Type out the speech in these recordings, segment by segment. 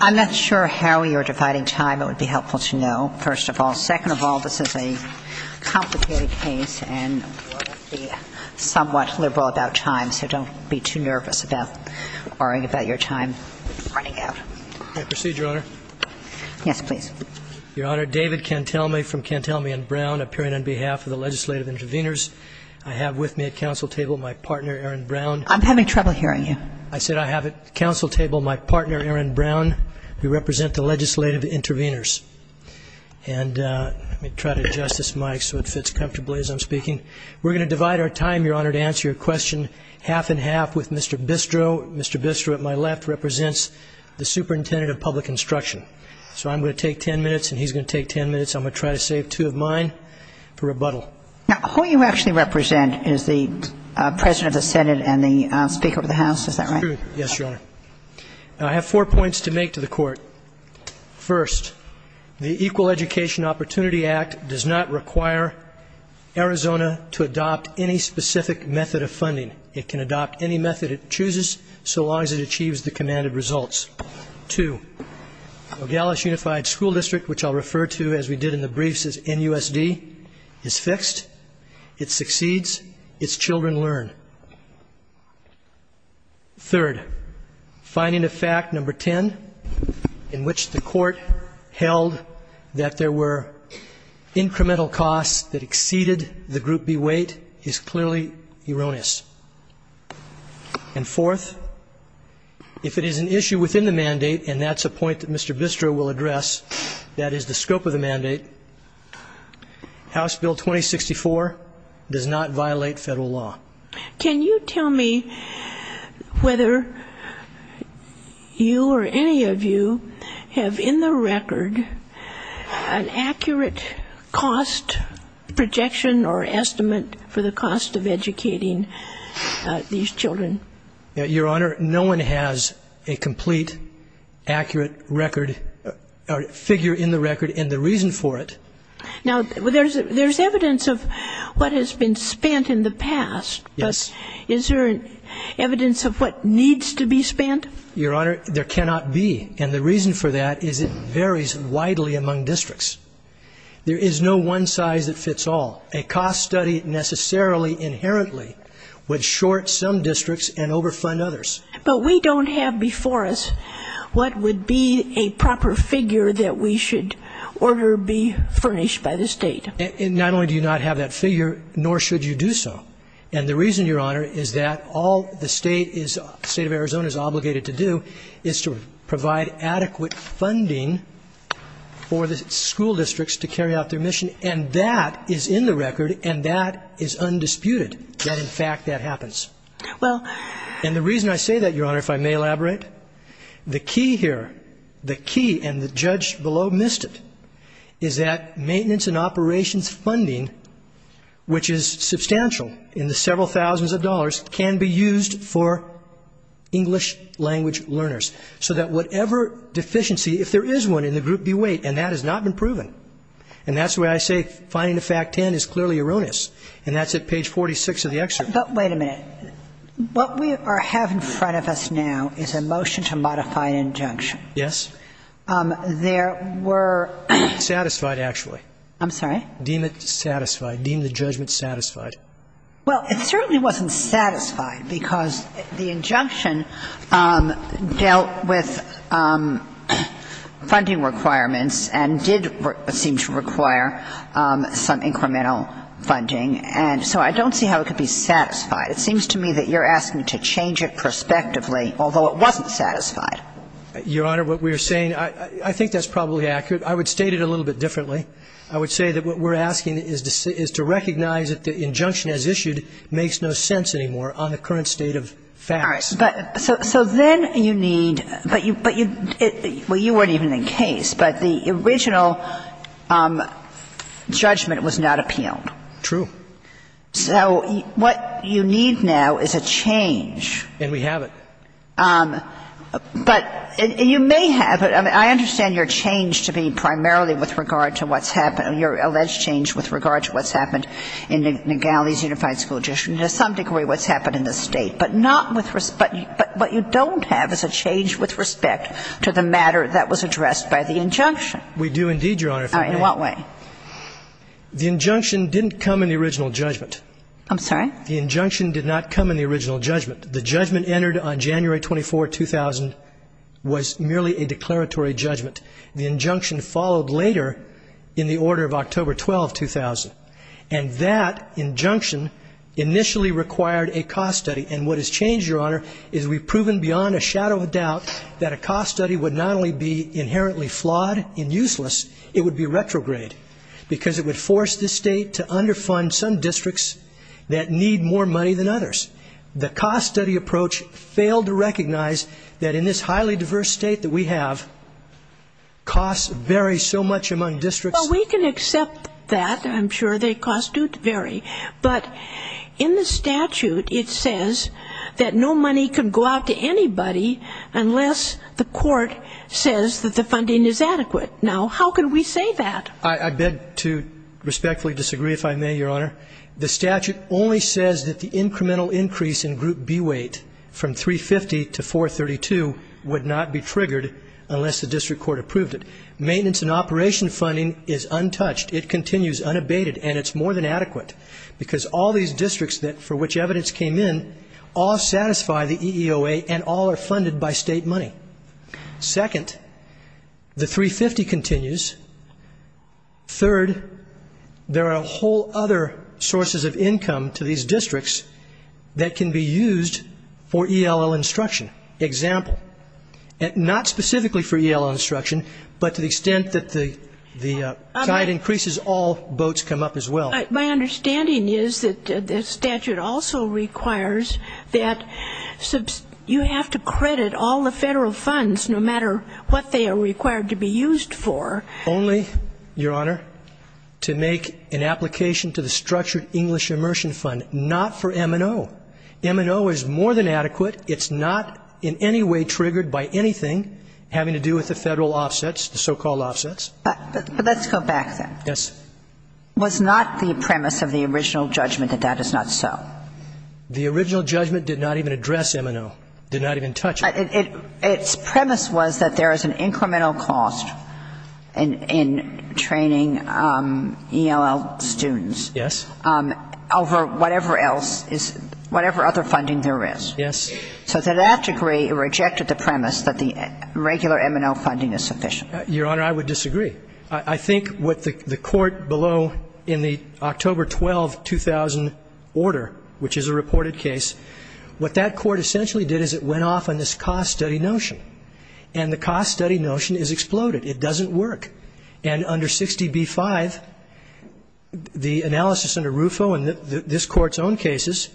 I'm not sure how you are dividing time, but it would be helpful to know, first of all. Second of all, this is a complicated case and somewhat liberal about time, so don't be too nervous about worrying about your time running out. May I proceed, Your Honor? Yes, please. Your Honor, David Cantelme from Cantelme and Brown, appearing on behalf of the legislative interveners. I have with me at council table my partner, Erin Brown. I'm having trouble hearing you. I said I have at council table my partner, Erin Brown, who represents the legislative interveners. And let me try to adjust this mic so it fits comfortably as I'm speaking. We're going to divide our time, Your Honor, to answer your question half and half with Mr. Bistro. Mr. Bistro, at my left, represents the superintendent of public instruction. So I'm going to take ten minutes and he's going to take ten minutes. I'm going to try to save two of mine for rebuttal. Now, who you actually represent is the president of the senate and the speaker of the house. Is that right? Yes, Your Honor. I have four points to make to the court. First, the Equal Education Opportunity Act does not require Arizona to adopt any specific method of funding. It can adopt any method it chooses so long as it achieves the commanded results. Two, the Dallas Unified School District, which I'll refer to as we did in the briefs as NUSD, is fixed. It succeeds. Its children learn. Third, finding a fact, number ten, in which the court held that there were incremental costs that exceeded the Group B weight is clearly erroneous. And fourth, if it is an issue within the mandate, and that's a point that Mr. Bistro will address, that is the scope of the mandate, House Bill 2064 does not violate federal law. Can you tell me whether you or any of you have in the record an accurate cost projection or estimate for the cost of educating these children? Your Honor, no one has a complete, accurate figure in the record and the reason for it. Now, there's evidence of what has been spent in the past. Is there evidence of what needs to be spent? Your Honor, there cannot be. And the reason for that is it varies widely among districts. There is no one size that fits all. A cost study necessarily inherently would short some districts and overfund others. But we don't have before us what would be a proper figure that we should order be furnished by the state. And not only do you not have that figure, nor should you do so. And the reason, Your Honor, is that all the state of Arizona is obligated to do is to provide adequate funding for the school districts to carry out their mission. And that is in the record and that is undisputed, that in fact that happens. And the reason I say that, Your Honor, if I may elaborate, the key here, the key and the judge below missed it, is that maintenance and operations funding, which is substantial in the several thousands of dollars, can be used for English language learners. So that whatever deficiency, if there is one in the group, be weight and that has not been proven. And that's why I say finding the fact 10 is clearly erroneous. And that's at page 46 of the excerpt. But wait a minute. What we have in front of us now is a motion to modify an injunction. Yes. There were... Satisfied, actually. I'm sorry? Deem it satisfied. Deem the judgment satisfied. Well, it certainly wasn't satisfied because the injunction dealt with funding requirements and did seem to require some incremental funding. And so I don't see how it could be satisfied. It seems to me that you're asking to change it prospectively, although it wasn't satisfied. Your Honor, what we're saying, I think that's probably accurate. I would state it a little bit differently. I would say that what we're asking is to recognize that the injunction as issued makes no sense anymore on the current state of facts. All right. So then you need... Well, you weren't even in case, but the original judgment was not appealed. True. So what you need now is a change. And we have it. But you may have it. I mean, I understand your change to me primarily with regard to what's happened, your alleged change with regard to what's happened in the Gallies Unified School District and to some degree what's happened in the state. But not with respect... But what you don't have is a change with respect to the matter that was addressed by the injunction. We do indeed, Your Honor. In what way? The injunction didn't come in the original judgment. I'm sorry? The injunction did not come in the original judgment. The judgment entered on January 24, 2000 was merely a declaratory judgment. The injunction followed later in the order of October 12, 2000. And that injunction initially required a cost study. Because it would force the state to underfund some districts that need more money than others. The cost study approach failed to recognize that in this highly diverse state that we have, costs vary so much among districts. Well, we can accept that. I'm sure their costs do vary. But in the statute it says that no money can go out to anybody unless the court says that the funding is adequate. Now, how can we say that? I beg to respectfully disagree, if I may, Your Honor. The statute only says that the incremental increase in group B weight from 350 to 432 would not be triggered unless the district court approved it. Maintenance and operation funding is untouched. It continues unabated. And it's more than adequate. Because all these districts for which evidence came in all satisfy the EEOA and all are funded by state money. Second, the 350 continues. Third, there are whole other sources of income to these districts that can be used for ELL instruction. Example. Not specifically for ELL instruction, but to the extent that the guide increases, all boats come up as well. My understanding is that this statute also requires that you have to credit all the federal funds, no matter what they are required to be used for. Only, Your Honor, to make an application to the Structured English Immersion Fund. Not for M&O. M&O is more than adequate. It's not in any way triggered by anything having to do with the federal offsets, the so-called offsets. Let's go back then. Yes. Was not the premise of the original judgment that that is not so. The original judgment did not even address M&O. Did not even touch it. Its premise was that there is an incremental cost in training ELL students. Yes. Over whatever other funding there is. Yes. So to that degree, it rejected the premise that the regular M&O funding is sufficient. Your Honor, I would disagree. I think what the court below in the October 12, 2000 order, which is a reported case, what that court essentially did is it went off on this cost study notion. And the cost study notion is exploded. It doesn't work. And under 60B-5, the analysis under RUFO and this court's own cases,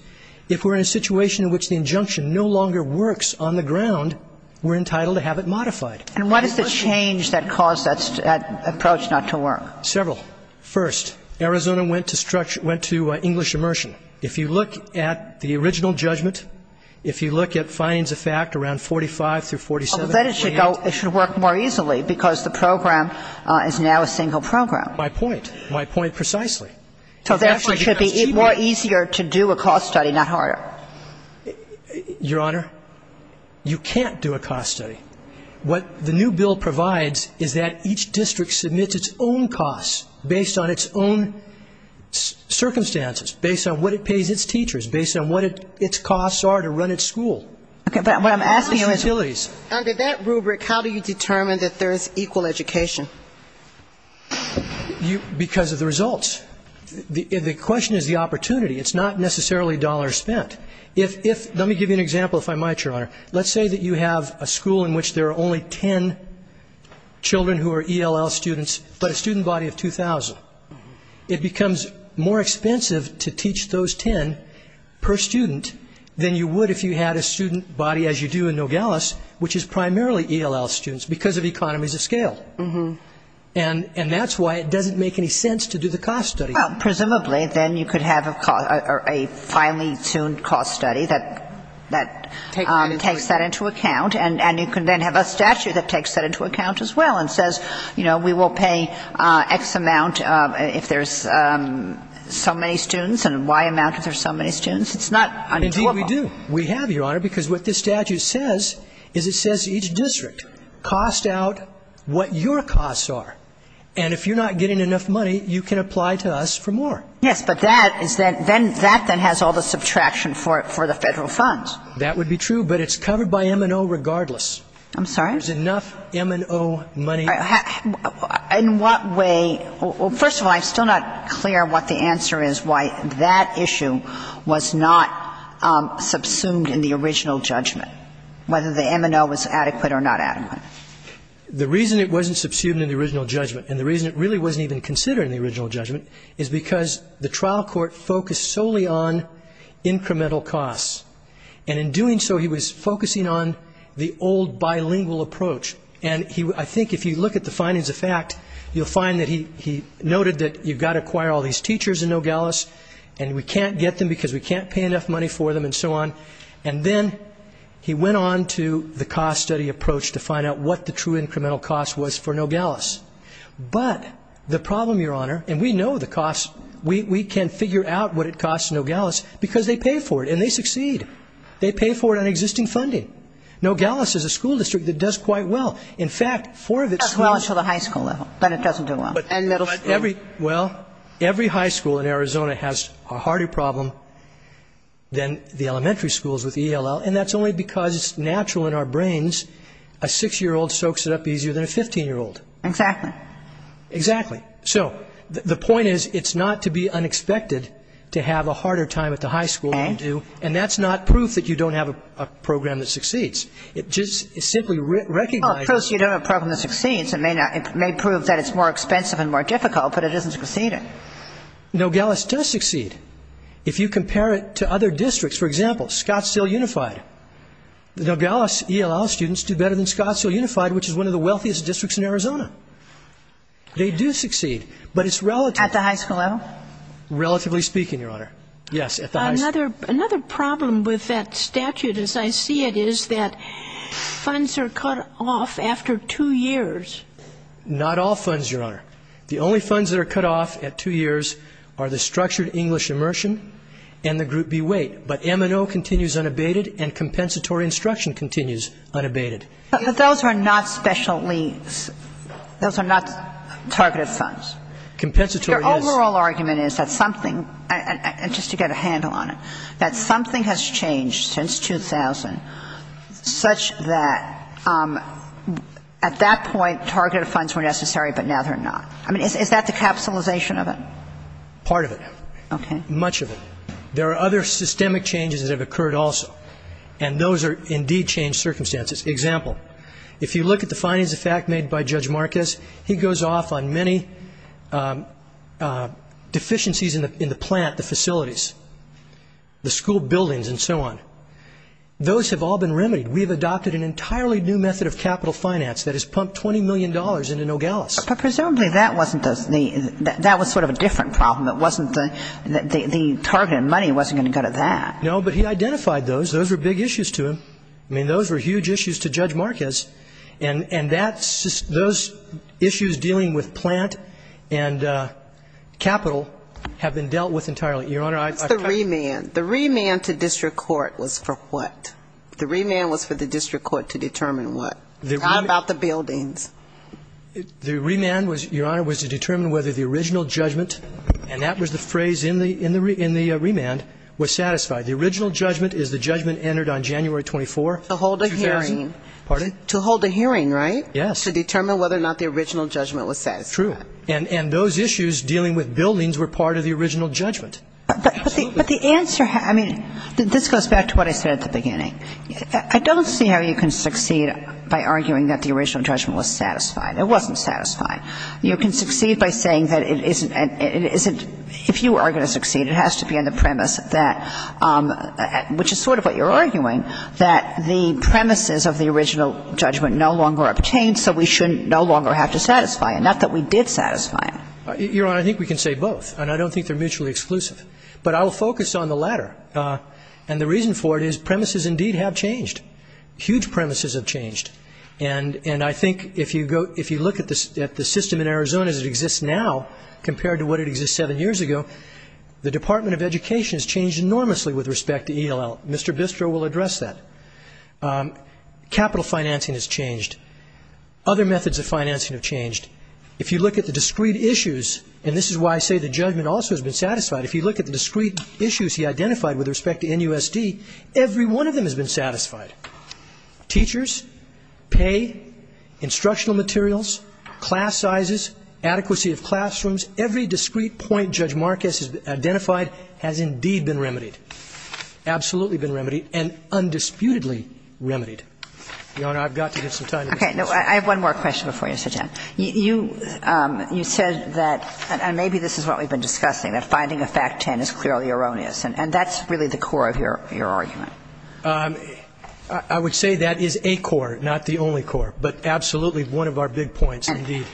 if we're in a situation in which the injunction no longer works on the ground, we're entitled to have it modified. And what is the change that caused that approach not to work? Several. First, Arizona went to English immersion. If you look at the original judgment, if you look at findings of fact around 45 through 47. But it should work more easily because the program is now a single program. My point. My point precisely. So therefore, it should be more easier to do a cost study, not harder. Your Honor, you can't do a cost study. What the new bill provides is that each district submits its own costs based on its own circumstances, based on what it pays its teachers, based on what its costs are to run its school. Okay, but what I'm asking is under that rubric, how do you determine that there is equal education? Because of the results. The question is the opportunity. It's not necessarily dollars spent. Let's say that you have a school in which there are only 10 children who are ELL students, but a student body of 2,000. It becomes more expensive to teach those 10 per student than you would if you had a student body as you do in Nogales, which is primarily ELL students because of economies of scale. And that's why it doesn't make any sense to do the cost study. Well, presumably, then you could have a highly tuned cost study that takes that into account. And you can then have a statute that takes that into account as well and says, you know, we will pay X amount if there's so many students and Y amount if there's so many students. It's not unimportant. Indeed, we do. We have, Your Honor, because what this statute says is it says each district costs out what your costs are. And if you're not getting enough money, you can apply to us for more. Yes, but that then has all the subtraction for the federal funds. That would be true, but it's covered by M&O regardless. I'm sorry? Is enough M&O money? In what way? Well, first of all, I'm still not clear what the answer is, why that issue was not subsumed in the original judgment, whether the M&O was adequate or not adequate. The reason it wasn't subsumed in the original judgment and the reason it really wasn't even considered in the original judgment is because the trial court focused solely on incremental costs. And in doing so, he was focusing on the old bilingual approach. And I think if you look at the findings of fact, you'll find that he noted that you've got to acquire all these teachers in Nogales and we can't get them because we can't pay enough money for them and so on. And then he went on to the cost study approach to find out what the true incremental cost was for Nogales. But the problem, Your Honor, and we know the cost. We can figure out what it costs Nogales because they pay for it and they succeed. They pay for it on existing funding. Nogales is a school district that does quite well. In fact, four of its... It does well until the high school level, but it doesn't do well. Well, every high school in Arizona has a harder problem than the elementary schools with ELL, and that's only because it's natural in our brains. A six-year-old soaks it up easier than a 15-year-old. Exactly. Exactly. So, the point is it's not to be unexpected to have a harder time at the high school than you do, and that's not proof that you don't have a program that succeeds. It just simply recognizes... Well, of course you don't have a program that succeeds. It may prove that it's more expensive and more difficult, but it doesn't succeed. Nogales does succeed. If you compare it to other districts, for example, Scottsdale Unified. Nogales ELL students do better than Scottsdale Unified, which is one of the wealthiest districts in Arizona. They do succeed, but it's relatively... At the high school level? Relatively speaking, Your Honor. Yes, at the high school. Another problem with that statute, as I see it, is that funds are cut off after two years. Not all funds, Your Honor. The only funds that are cut off at two years are the structured English immersion and the group B weight, but M&O continues unabated and compensatory instruction continues unabated. But those are not special needs. Those are not targeted funds. Your overall argument is that something, and just to get a handle on it, that something has changed since 2000 such that at that point targeted funds were necessary, but now they're not. I mean, is that the capitalization of it? Part of it. Okay. Much of it. There are other systemic changes that have occurred also, and those have indeed changed circumstances. Example, if you look at the finance of fact made by Judge Marquez, he goes off on many deficiencies in the plant, the facilities, the school buildings, and so on. Those have all been remedied. We've adopted an entirely new method of capital finance that has pumped $20 million into Nogales. But presumably that was sort of a different problem. The targeted money wasn't going to go to that. No, but he identified those. Those were big issues to him. I mean, those were huge issues to Judge Marquez, and those issues dealing with plant and capital have been dealt with entirely. Your Honor, I've asked. The remand. The remand to district court was for what? The remand was for the district court to determine what? How about the buildings? The remand, Your Honor, was to determine whether the original judgment, and that was the phrase in the remand, was satisfied. The original judgment is the judgment entered on January 24, 2000. To hold a hearing. Pardon? To hold a hearing, right? Yes. To determine whether or not the original judgment was satisfied. True. And those issues dealing with buildings were part of the original judgment. But the answer, I mean, this goes back to what I said at the beginning. I don't see how you can succeed by arguing that the original judgment was satisfied. It wasn't satisfied. You can succeed by saying that it isn't. If you are going to succeed, it has to be in the premise that, which is sort of what you're arguing, that the premises of the original judgment no longer obtained, so we shouldn't no longer have to satisfy it. Not that we did satisfy it. Your Honor, I think we can say both. And I don't think they're mutually exclusive. But I'll focus on the latter. And the reason for it is premises indeed have changed. Huge premises have changed. And I think if you look at the system in Arizona as it exists now, compared to what it existed seven years ago, the Department of Education has changed enormously with respect to ELL. Mr. Bistro will address that. Capital financing has changed. Other methods of financing have changed. If you look at the discrete issues, and this is why I say the judgment also has been satisfied, if you look at the discrete issues he identified with respect to NUSD, every one of them has been satisfied. Teachers, pay, instructional materials, class sizes, adequacy of classrooms, every discrete point Judge Marquez has identified has indeed been remedied, absolutely been remedied, and undisputedly remedied. Your Honor, I've got to get some time. Okay. No, I have one more question before you, Sajan. You said that, and maybe this is what we've been discussing, that finding a fact 10 is clearly erroneous. And that's really the core of your argument. I would say that is a core, not the only core, but absolutely one of our big points indeed.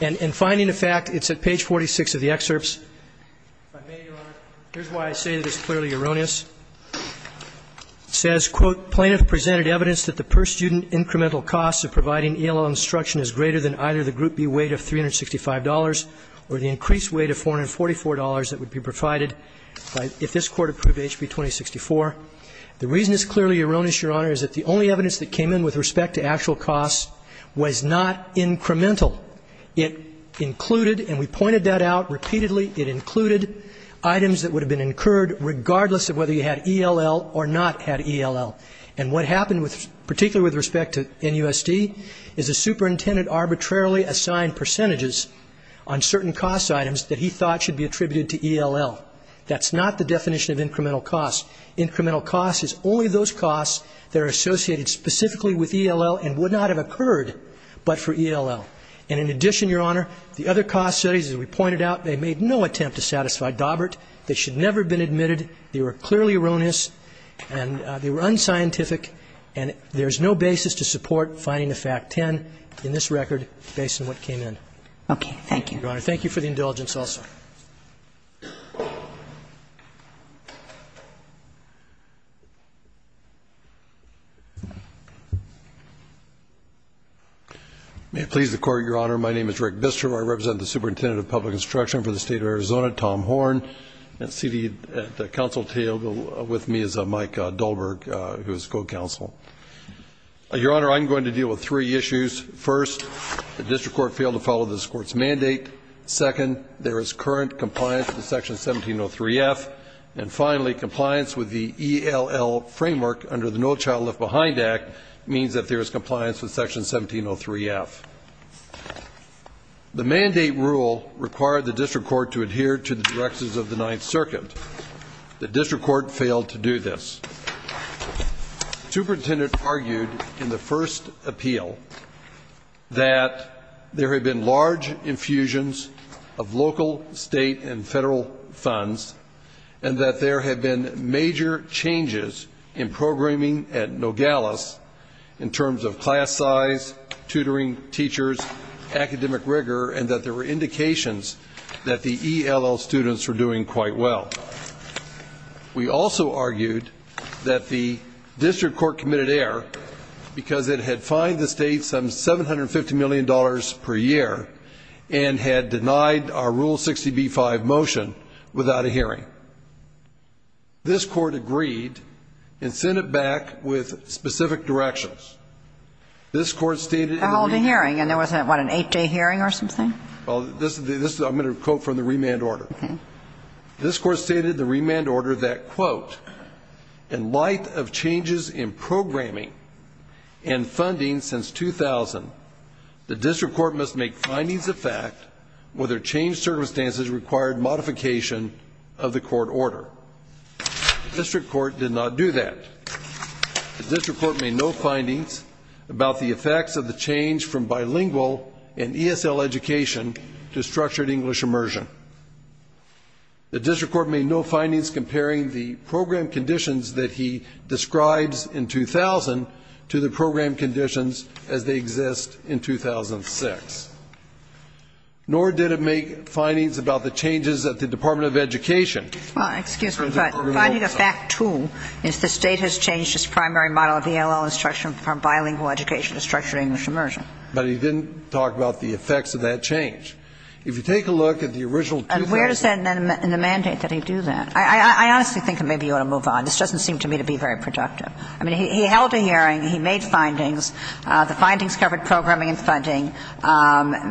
And finding the fact, it's at page 46 of the excerpts, here's why I say that it's clearly erroneous. It says, quote, plaintiff presented evidence that the per-student incremental costs of providing ELL instruction is greater than either the Group B weight of $365 or the increased weight of $444 that would be provided if this court approved HB 2064. The reason it's clearly erroneous, Your Honor, is that the only evidence that came in with respect to actual costs was not incremental. It included, and we pointed that out repeatedly, it included items that would have been incurred regardless of whether you had ELL or not had ELL. And what happened, particularly with respect to NUSD, is the superintendent arbitrarily assigned percentages on certain cost items that he thought should be attributed to ELL. That's not the definition of incremental cost. Incremental cost is only those costs that are associated specifically with ELL and would not have occurred but for ELL. And in addition, Your Honor, the other cost studies, as we pointed out, they made no attempt to satisfy Dobert. They should never have been admitted. They were clearly erroneous and they were unscientific and there's no basis to support finding the fact 10 in this record based on what came in. Okay, thank you. Your Honor, thank you for the indulgence also. May it please the Court, Your Honor, my name is Rick Bistrom. I represent the Superintendent of Public Instruction for the State of Arizona, Tom Horn, and seated at the counsel table with me is Mike Dobert, who is co-counsel. Your Honor, I'm going to deal with three issues. First, the district court failed to follow this court's mandate. Second, there is current compliance with Section 1703F. And finally, compliance with the ELL framework under the No Child Left Behind Act means that there is compliance with Section 1703F. The mandate rule required the district court to adhere to the directives of the Ninth Circuit. The district court failed to do this. The Superintendent argued in the first appeal that there had been large infusions of local, state, and federal funds and that there had been major changes in programming at Nogales in terms of class size, tutoring, teachers, academic rigor, and that there were indications that the ELL students were doing quite well. We also argued that the district court committed error because it had fined the state some $750 million per year and had denied our Rule 60b-5 motion without a hearing. This court agreed and sent it back with specific directions. This court stated in the... A holding hearing, and there wasn't, what, an eight-day hearing or something? I'm going to quote from the remand order. This court stated in the remand order that, quote, in light of changes in programming and funding since 2000, the district court must make findings of fact whether changed circumstances required modification of the court order. The district court did not do that. The district court made no findings about the effects of the change from bilingual and ESL education to structured English immersion. The district court made no findings comparing the program conditions that he describes in 2000 to the program conditions as they exist in 2006. Nor did it make findings about the changes that the Department of Education... Well, excuse me, but finding a fact, too, is the state has changed its primary model of ELL instruction from bilingual education to structured English immersion. But he didn't talk about the effects of that change. If you take a look at the original... And where is that in the mandate that he do that? I honestly think maybe you ought to move on. This doesn't seem to me to be very productive. I mean, he held a hearing. He made findings. The findings covered programming and funding.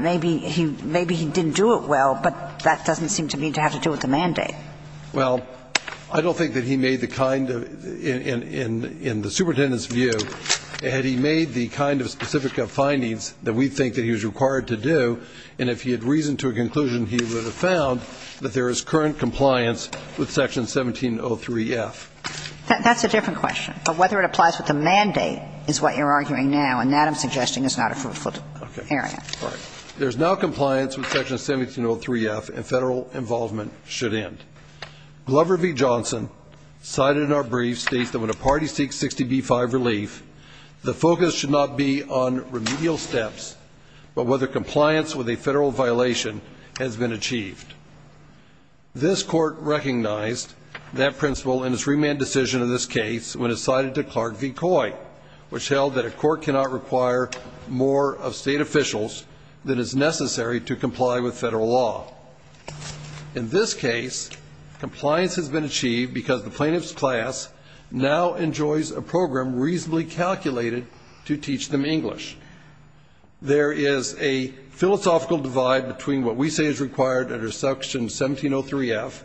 Maybe he didn't do it well, but that doesn't seem to me to have to do with the mandate. Well, I don't think that he made the kind of... In the superintendent's view, had he made the kind of specific findings that we think that he was required to do, and if he had reasoned to a conclusion, he would have found that there is current compliance with Section 1703F. That's a different question. But whether it applies to the mandate is what you're arguing now, and that, I'm suggesting, is not a fruitful area. Okay, all right. There's no compliance with Section 1703F, and federal involvement should end. Glover v. Johnson, cited in our brief, states that when a party seeks 60B-5 relief, the focus should not be on remedial steps, but whether compliance with a federal violation has been achieved. This court recognized that principle in its remand decision in this case when it cited to Clark v. Coy, which held that a court cannot require more of state officials than is necessary to comply with federal law. In this case, compliance has been achieved because the plaintiff's class now enjoys a program reasonably calculated to teach them English. There is a philosophical divide between what we say is required under Section 1703F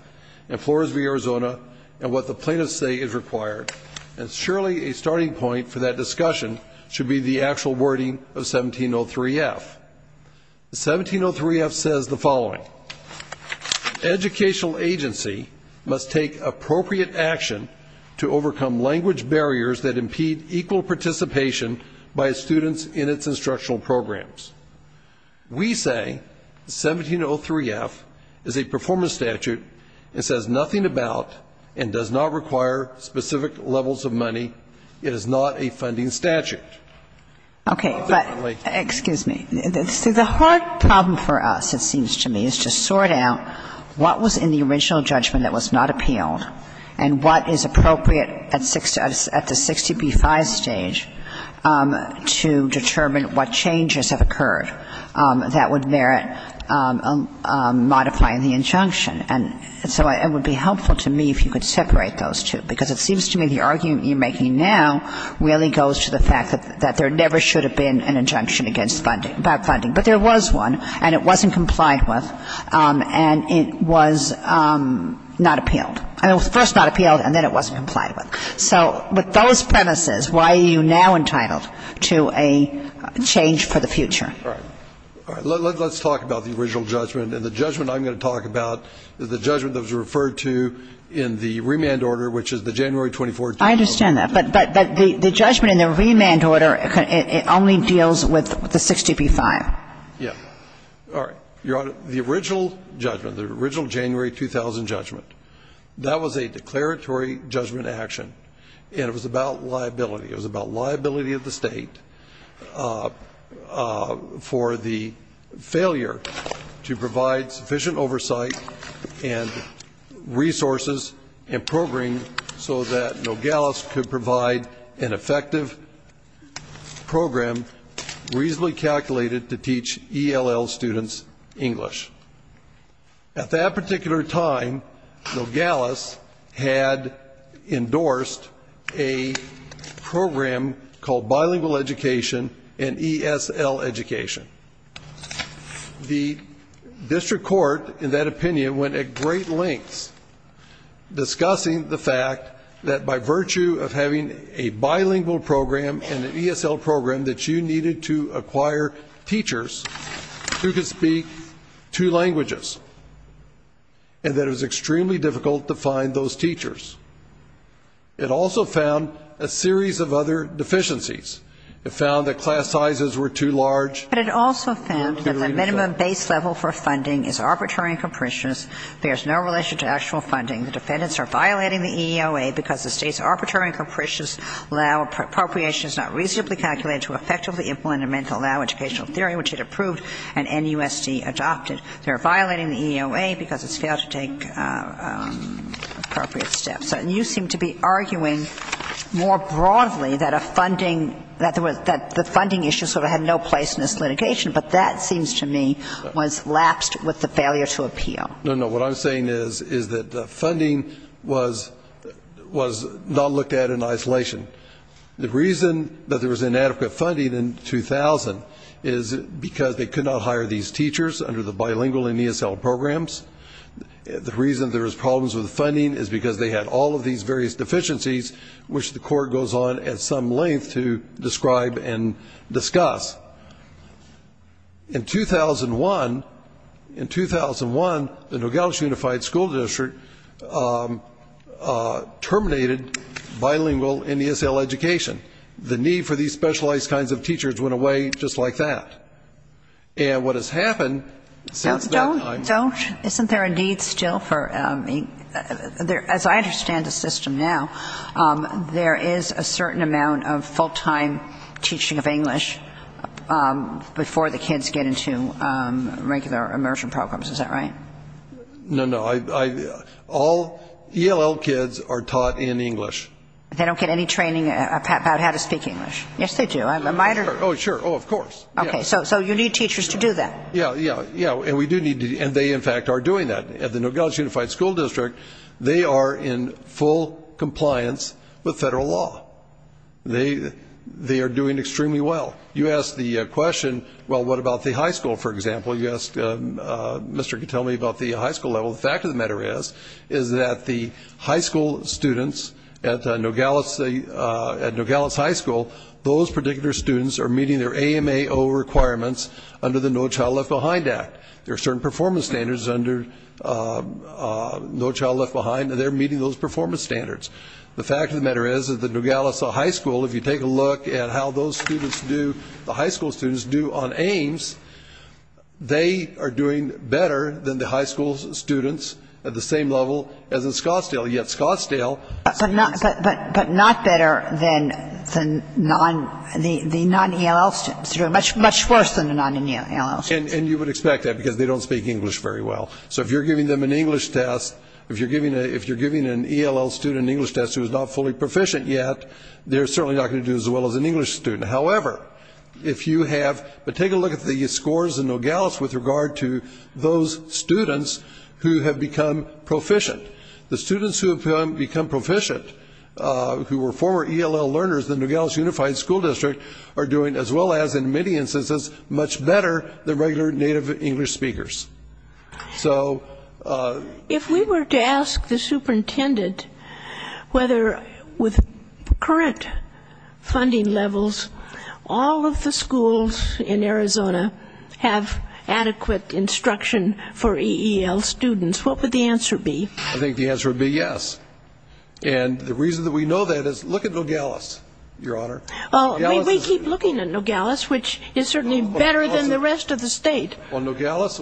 in Flores v. Arizona and what the plaintiffs say is required, and surely a starting point for that discussion should be the actual wording of 1703F. 1703F says the following. Educational agency must take appropriate action to overcome language barriers that impede equal participation by students in its instructional programs. We say 1703F is a performance statute that says nothing about and does not require specific levels of money. It is not a funding statute. Okay, but excuse me. The hard problem for us, it seems to me, is to sort out what was in the original judgment that was not appealed and what is appropriate at the 60B-5 stage to determine what changes have occurred that would merit modifying the injunction. And so it would be helpful to me if you could separate those two because it seems to me the argument you're making now really goes to the fact that there never should have been an injunction about funding. But there was one, and it wasn't complied with, and it was not appealed. It was first not appealed, and then it wasn't complied with. So with those premises, why are you now entitled to a change for the future? All right, let's talk about the original judgment. And the judgment I'm going to talk about is the judgment that was referred to in the remand order, which is the January 24 judgment. I understand that. But the judgment in the remand order only deals with the 60B-5. Yes. All right. Your Honor, the original judgment, the original January 2000 judgment, that was a declaratory judgment action, and it was about liability. It was about liability of the state for the failure to provide sufficient oversight and resources and programs so that Nogales could provide an effective program reasonably calculated to teach ELL students English. At that particular time, Nogales had endorsed a program called bilingual education and ESL education. The district court, in that opinion, went at great lengths discussing the fact that by virtue of having a bilingual program and an ESL program that you needed to acquire teachers who could speak two languages and that it was extremely difficult to find those teachers. It also found a series of other deficiencies. It found that class sizes were too large. But it also found that the minimum base level for funding is arbitrary and capricious. There is no relation to actual funding. The defendants are violating the EEOA because the state's arbitrary and capricious allow appropriations not reasonably calculated to effectively implement and meant to allow educational theory, which it approved and NUSD adopted. They're violating the EEOA because it failed to take appropriate steps. And you seem to be arguing more broadly that the funding issue sort of had no place in this litigation, but that seems to me was lapsed with the failure to appeal. No, no, what I'm saying is that the funding was not looked at in isolation. The reason that there was inadequate funding in 2000 is because they could not hire these teachers under the bilingual and ESL programs. The reason there was problems with the funding is because they had all of these various deficiencies which the court goes on at some length to describe and discuss. In 2001, the Nogales Unified School District terminated bilingual and ESL education. The need for these specialized kinds of teachers went away just like that. And what has happened since that time... Phil, isn't there a need still for... As I understand the system now, there is a certain amount of full-time teaching of English before the kids get into regular immersion programs, is that right? No, no, all ELL kids are taught in English. They don't get any training about how to speak English? Yes, they do. Oh, sure, of course. Okay, so you need teachers to do that. Yes, and they in fact are doing that. At the Nogales Unified School District, they are in full compliance with federal law. They are doing extremely well. You asked the question, well, what about the high school, for example? You asked Mr. Katomi about the high school level. The fact of the matter is that the high school students at Nogales High School, those particular students are meeting their AMAO requirements under the No Child Left Behind Act. There are certain performance standards under No Child Left Behind, and they're meeting those performance standards. The fact of the matter is that the Nogales High School, if you take a look at how those students do, the high school students do on Aims, they are doing better than the high school students at the same level as in Scottsdale. But not better than the non-ELL students. Much worse than the non-ELL students. And you would expect that because they don't speak English very well. So if you're giving them an English test, if you're giving an ELL student an English test who is not fully proficient yet, they're certainly not going to do as well as an English student. However, if you have, but take a look at the scores in Nogales with regard to those students who have become proficient. The students who have become proficient, who were former ELL learners in Nogales Unified School District, are doing, as well as in many instances, much better than regular native English speakers. So... If we were to ask the superintendent whether with current funding levels, all of the schools in Arizona have adequate instruction for ELL students, what would the answer be? I think the answer would be yes. And the reason that we know that is look at Nogales, Your Honor. Oh, we keep looking at Nogales, which is certainly better than the rest of the state. Well, Nogales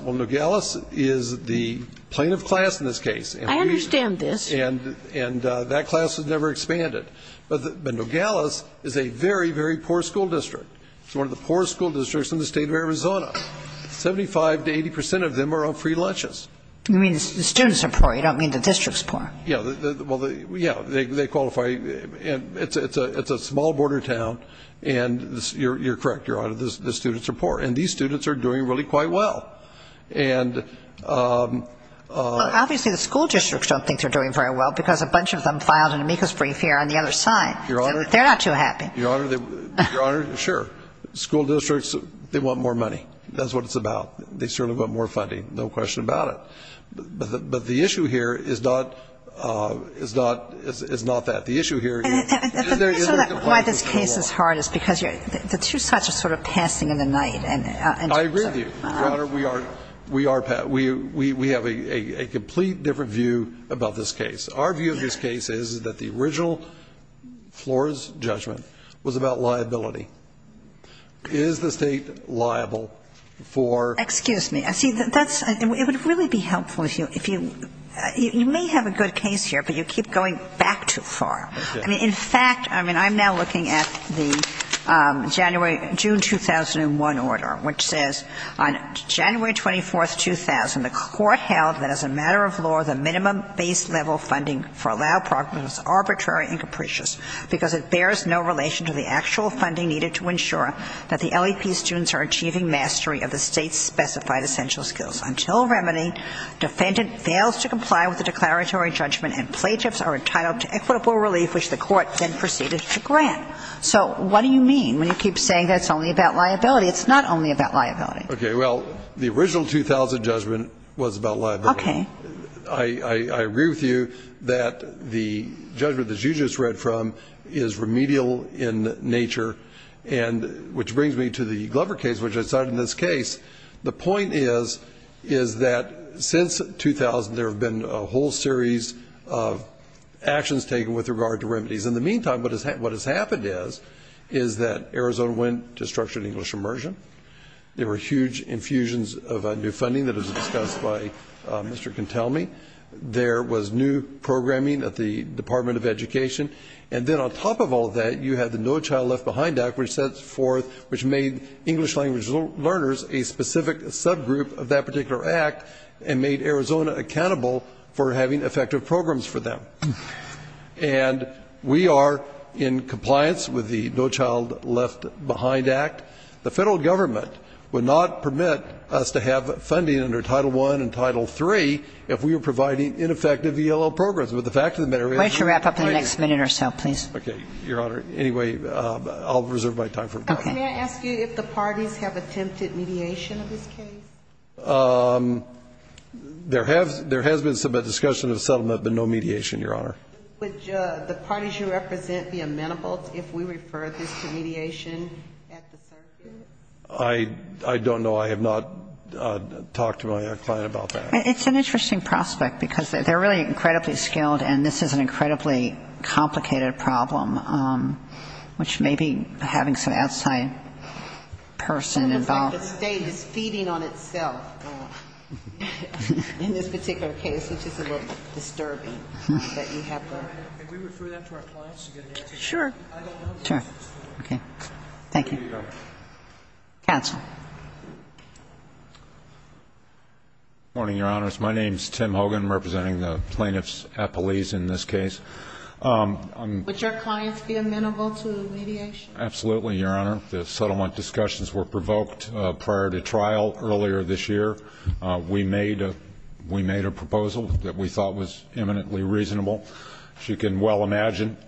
is the plaintiff class in this case. I understand this. And that class has never expanded. But Nogales is a very, very poor school district. It's one of the poorest school districts in the state of Arizona. Seventy-five to eighty percent of them are on free lunches. You mean the students are poor. You don't mean the district's poor. Yeah, well, yeah, they qualify. And it's a small border town. And you're correct, Your Honor, the students are poor. And these students are doing really quite well. And... Obviously, the school districts don't think they're doing very well because a bunch of them filed an amicus brief here on the other side. They're not too happy. Your Honor, sure. School districts, they want more money. That's what it's about. They certainly want more funding. No question about it. But the issue here is not that. The issue here is... Why this case is hard is because the two sides are sort of passing in the night. I agree with you, Your Honor. We have a complete different view about this case. Our view of this case is that the original floor's judgment was about liability. Is the state liable for... Excuse me. It would really be helpful if you... You may have a good case here, but you keep going back too far. In fact, I mean, I'm now looking at the January, June 2001 order, which says, on January 24, 2000, the court held that as a matter of law, the minimum base level funding for allowed programs was arbitrary and capricious because it bears no relation to the actual funding needed to ensure that the LEP students are achieving mastery of the state's specified essential skills. Until remedy, defendant fails to comply with the declaratory judgment and plagiars are entitled to equitable relief, which the court then proceeds to grant. So what do you mean when you keep saying that it's only about liability? It's not only about liability. Okay. Well, the original 2000 judgment was about liability. Okay. I agree with you that the judgment that you just read from is remedial in nature, which brings me to the Glover case, which I cited in this case. The point is that since 2000, there have been a whole series of actions taken with regard to remedies. In the meantime, what has happened is that Arizona went to structured English immersion. There were huge infusions of new funding that was discussed by Mr. Cantelmi. There was new programming at the Department of Education. And then on top of all that, you had the No Child Left Behind Act, which made English language learners a specific subgroup of that particular act and made Arizona accountable for having effective programs for them. And we are in compliance with the No Child Left Behind Act. The federal government would not permit us to have funding under Title I and Title III if we were providing ineffective ELL programs. Why don't you wrap up in the next minute or so, please. Okay, Your Honor. Anyway, I'll reserve my time for questions. Can I ask you if the parties have attempted mediation in this case? There has been some discussion of settlement, but no mediation, Your Honor. Would the parties you represent be amenable if we referred this to mediation? I don't know. I have not talked to my client about that. It's an interesting prospect because they're really incredibly skilled, and this is an incredibly complicated problem, which may be having some outside person involved. This is like a stage. It's feeding on itself in this particular case. This is a little disturbing that you have to… Can we refer that to our clients? Sure. Sure. Okay. Thank you. Counsel. Good morning, Your Honor. My name is Tim Hogan, representing the plaintiff's appellees in this case. Would your clients be amenable to mediation? Absolutely, Your Honor. The settlement discussions were provoked prior to trial earlier this year. We made a proposal that we thought was eminently reasonable. As you can well imagine,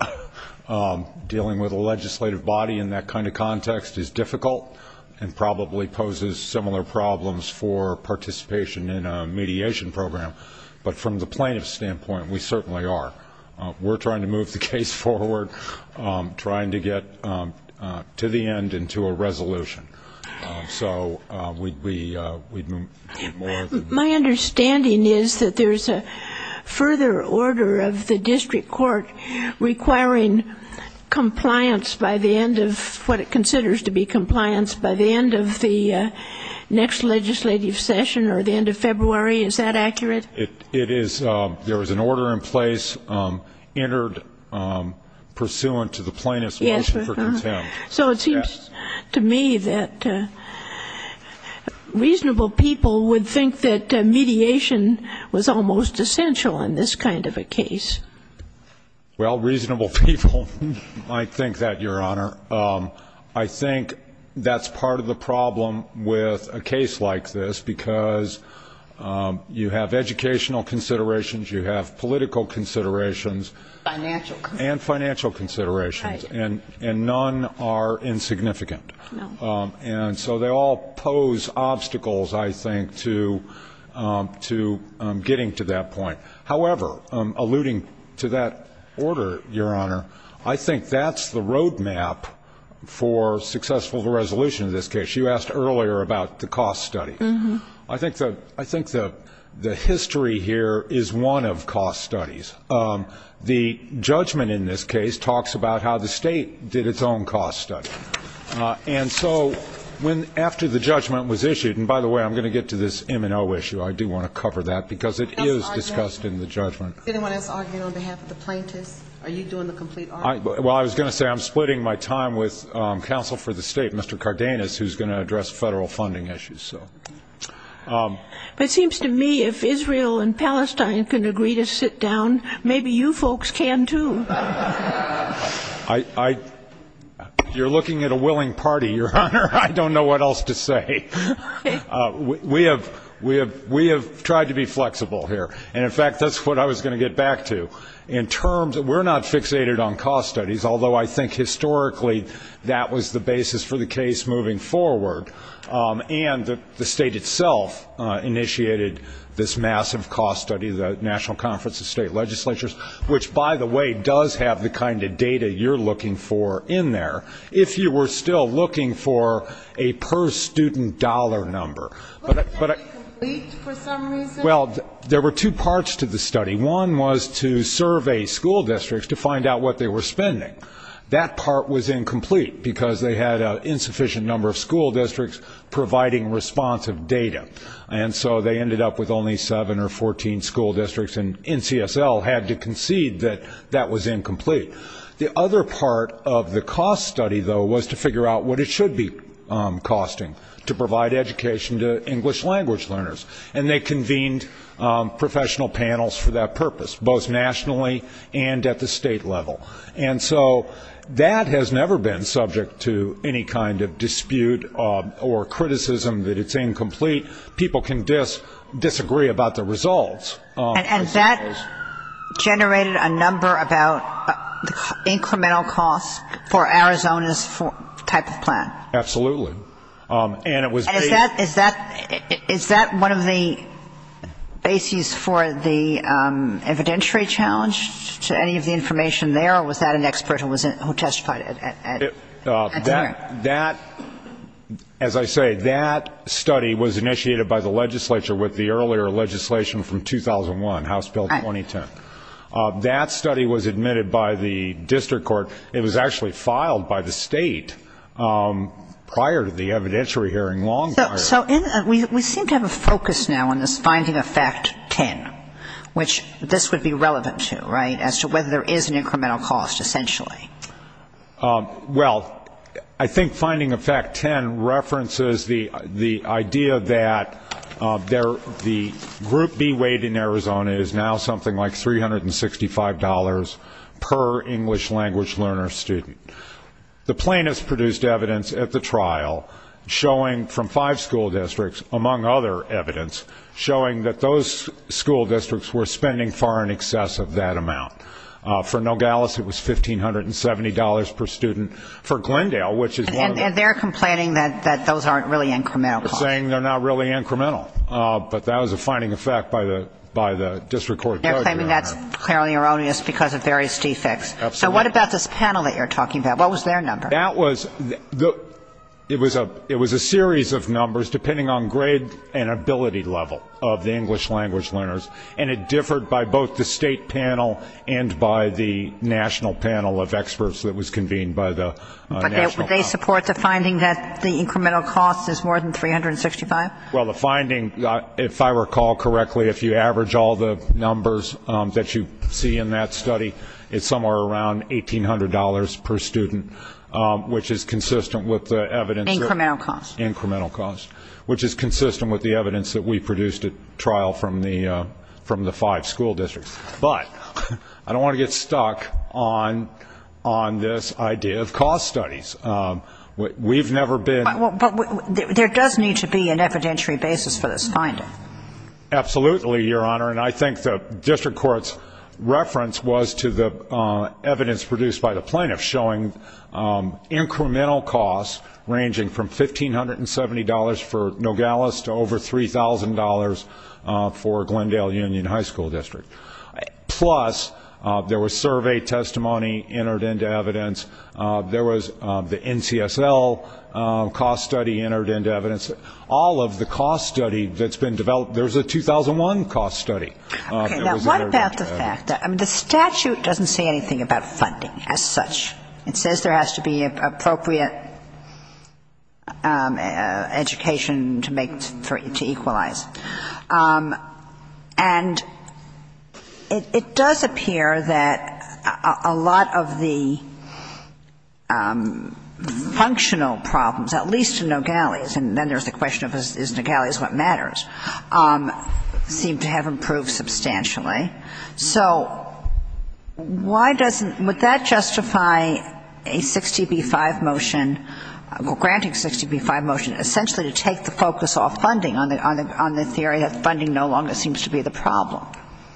dealing with a legislative body in that kind of context is difficult and probably poses similar problems for participation in a mediation program. But from the plaintiff's standpoint, we certainly are. We're trying to move the case forward, trying to get to the end and to a resolution. My understanding is that there's a further order of the district court requiring compliance by the end of what it considers to be compliance by the end of the next legislative session or the end of February. Is that accurate? It is. There is an order in place entered pursuant to the plaintiff's motion for contempt. So it seems to me that reasonable people would think that mediation was almost essential in this kind of a case. Well, reasonable people might think that, Your Honor. I think that's part of the problem with a case like this because you have educational considerations, you have political considerations and financial considerations, and none are insignificant. And so they all pose obstacles, I think, to getting to that point. However, alluding to that order, Your Honor, I think that's the roadmap for successful resolution of this case. You asked earlier about the cost studies. I think the history here is one of cost studies. The judgment in this case talks about how the state did its own cost study. And so after the judgment was issued, and by the way, I'm going to get to this M&O issue. I do want to cover that because it is discussed in the judgment. Do you want to argue on behalf of the plaintiff? Are you doing the complete argument? Well, I was going to say I'm splitting my time with counsel for the state, Mr. Cardenas, who's going to address federal funding issues. It seems to me if Israel and Palestine can agree to sit down, maybe you folks can too. You're looking at a willing party, Your Honor. I don't know what else to say. We have tried to be flexible here. And, in fact, that's what I was going to get back to. In terms of we're not fixated on cost studies, although I think historically that was the basis for the case moving forward. And the state itself initiated this massive cost study, the National Conference of State Legislatures, which, by the way, does have the kind of data you're looking for in there. If you were still looking for a per-student dollar number. Was that incomplete for some reason? Well, there were two parts to the study. One was to survey school districts to find out what they were spending. That part was incomplete because they had an insufficient number of school districts providing responsive data. And so they ended up with only seven or 14 school districts, and NCSL had to concede that that was incomplete. The other part of the cost study, though, was to figure out what it should be costing to provide education to English language learners. And they convened professional panels for that purpose, both nationally and at the state level. And so that has never been subject to any kind of dispute or criticism that it's incomplete. People can disagree about the results. And that generated a number of incremental costs for Arizona's type of plan. Absolutely. And it was based. And is that one of the bases for the evidentiary challenge? Is there any of the information there, or was that an expert who testified? That, as I say, that study was initiated by the legislature with the earlier legislation from 2001, House Bill 2010. That study was admitted by the district court. It was actually filed by the state prior to the evidentiary hearing, long prior. So we seem to have a focus now on this finding of fact 10, which this would be relevant to, right, as to whether there is an incremental cost, essentially. Well, I think finding of fact 10 references the idea that the group B weight in Arizona is now something like $365 per English language learner student. The plaintiffs produced evidence at the trial showing from five school districts, among other evidence, showing that those school districts were spending far in excess of that amount. For Nogales, it was $1,570 per student. For Glendale, which is one of them. And they're complaining that those aren't really incremental costs. They're saying they're not really incremental. But that was a finding of fact by the district court judge. They're saying that's clearly erroneous because of various defects. So what about this panel that you're talking about? What was their number? It was a series of numbers depending on grade and ability level of the English language learners. And it differed by both the state panel and by the national panel of experts that was convened by the national panel. Did they support the finding that the incremental cost is more than $365? Well, the finding, if I recall correctly, if you average all the numbers that you see in that study, it's somewhere around $1,800 per student, which is consistent with the evidence. Incremental cost. Incremental cost, which is consistent with the evidence that we produced at trial from the five school districts. But I don't want to get stuck on this idea of cost studies. We've never been. Absolutely, Your Honor, and I think the district court's reference was to the evidence produced by the plaintiffs showing incremental costs ranging from $1,570 for Nogales to over $3,000 for Glendale Union High School District. Plus, there was survey testimony entered into evidence. There was the NCSL cost study entered into evidence. All of the cost study that's been developed, there's a 2001 cost study. What about the statute? The statute doesn't say anything about funding as such. It says there has to be an appropriate education to equalize. And it does appear that a lot of the functional problems, at least in Nogales, and then there's the question of is Nogales what matters, seem to have improved substantially. So why doesn't, would that justify a 60B-5 motion, granting 60B-5 motion, essentially to take the focus off funding on this area if funding no longer seems to be the problem?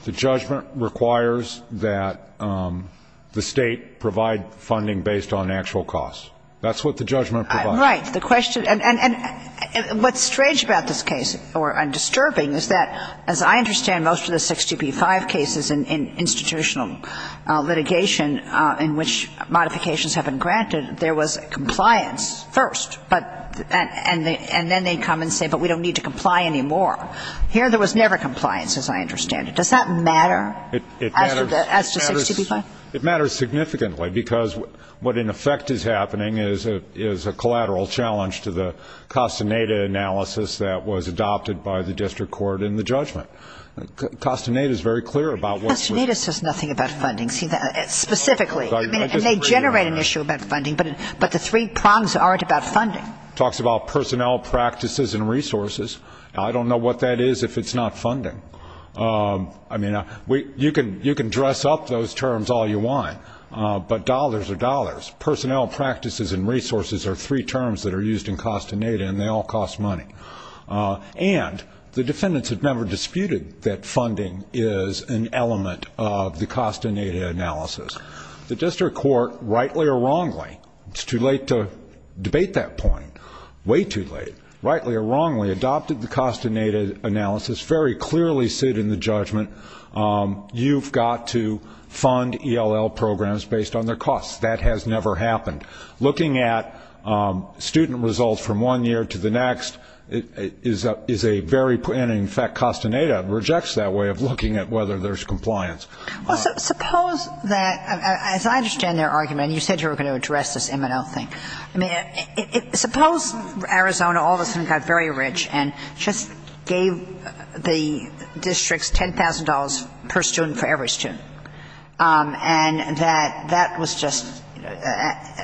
The judgment requires that the state provide funding based on actual cost. That's what the judgment provides. Right, the question, and what's strange about this case, or disturbing, is that as I understand most of the 60B-5 cases in institutional litigation in which modifications have been granted, there was compliance first. And then they come and say, but we don't need to comply anymore. Here there was never compliance, as I understand it. Does that matter as to 60B-5? It matters significantly because what in effect is happening is a collateral challenge to the Castaneda analysis that was adopted by the district court in the judgment. Castaneda is very clear about what's. Castaneda says nothing about funding, specifically. And they generate an issue about funding, but the three prongs aren't about funding. Talks about personnel, practices, and resources. I don't know what that is if it's not funding. I mean, you can dress up those terms all you want, but dollars are dollars. Personnel, practices, and resources are three terms that are used in Castaneda, and they all cost money. And the defendants have never disputed that funding is an element of the Castaneda analysis. The district court, rightly or wrongly, it's too late to debate that point, way too late, rightly or wrongly adopted the Castaneda analysis, very clearly said in the judgment, you've got to fund ELL programs based on their costs. That has never happened. Looking at student results from one year to the next is a very, and in fact, Castaneda rejects that way of looking at whether there's compliance. Suppose that, as I understand their argument, and you said you were going to address this M&L thing. I mean, suppose Arizona all of a sudden got very rich and just gave the districts $10,000 per student for every student. And that that was just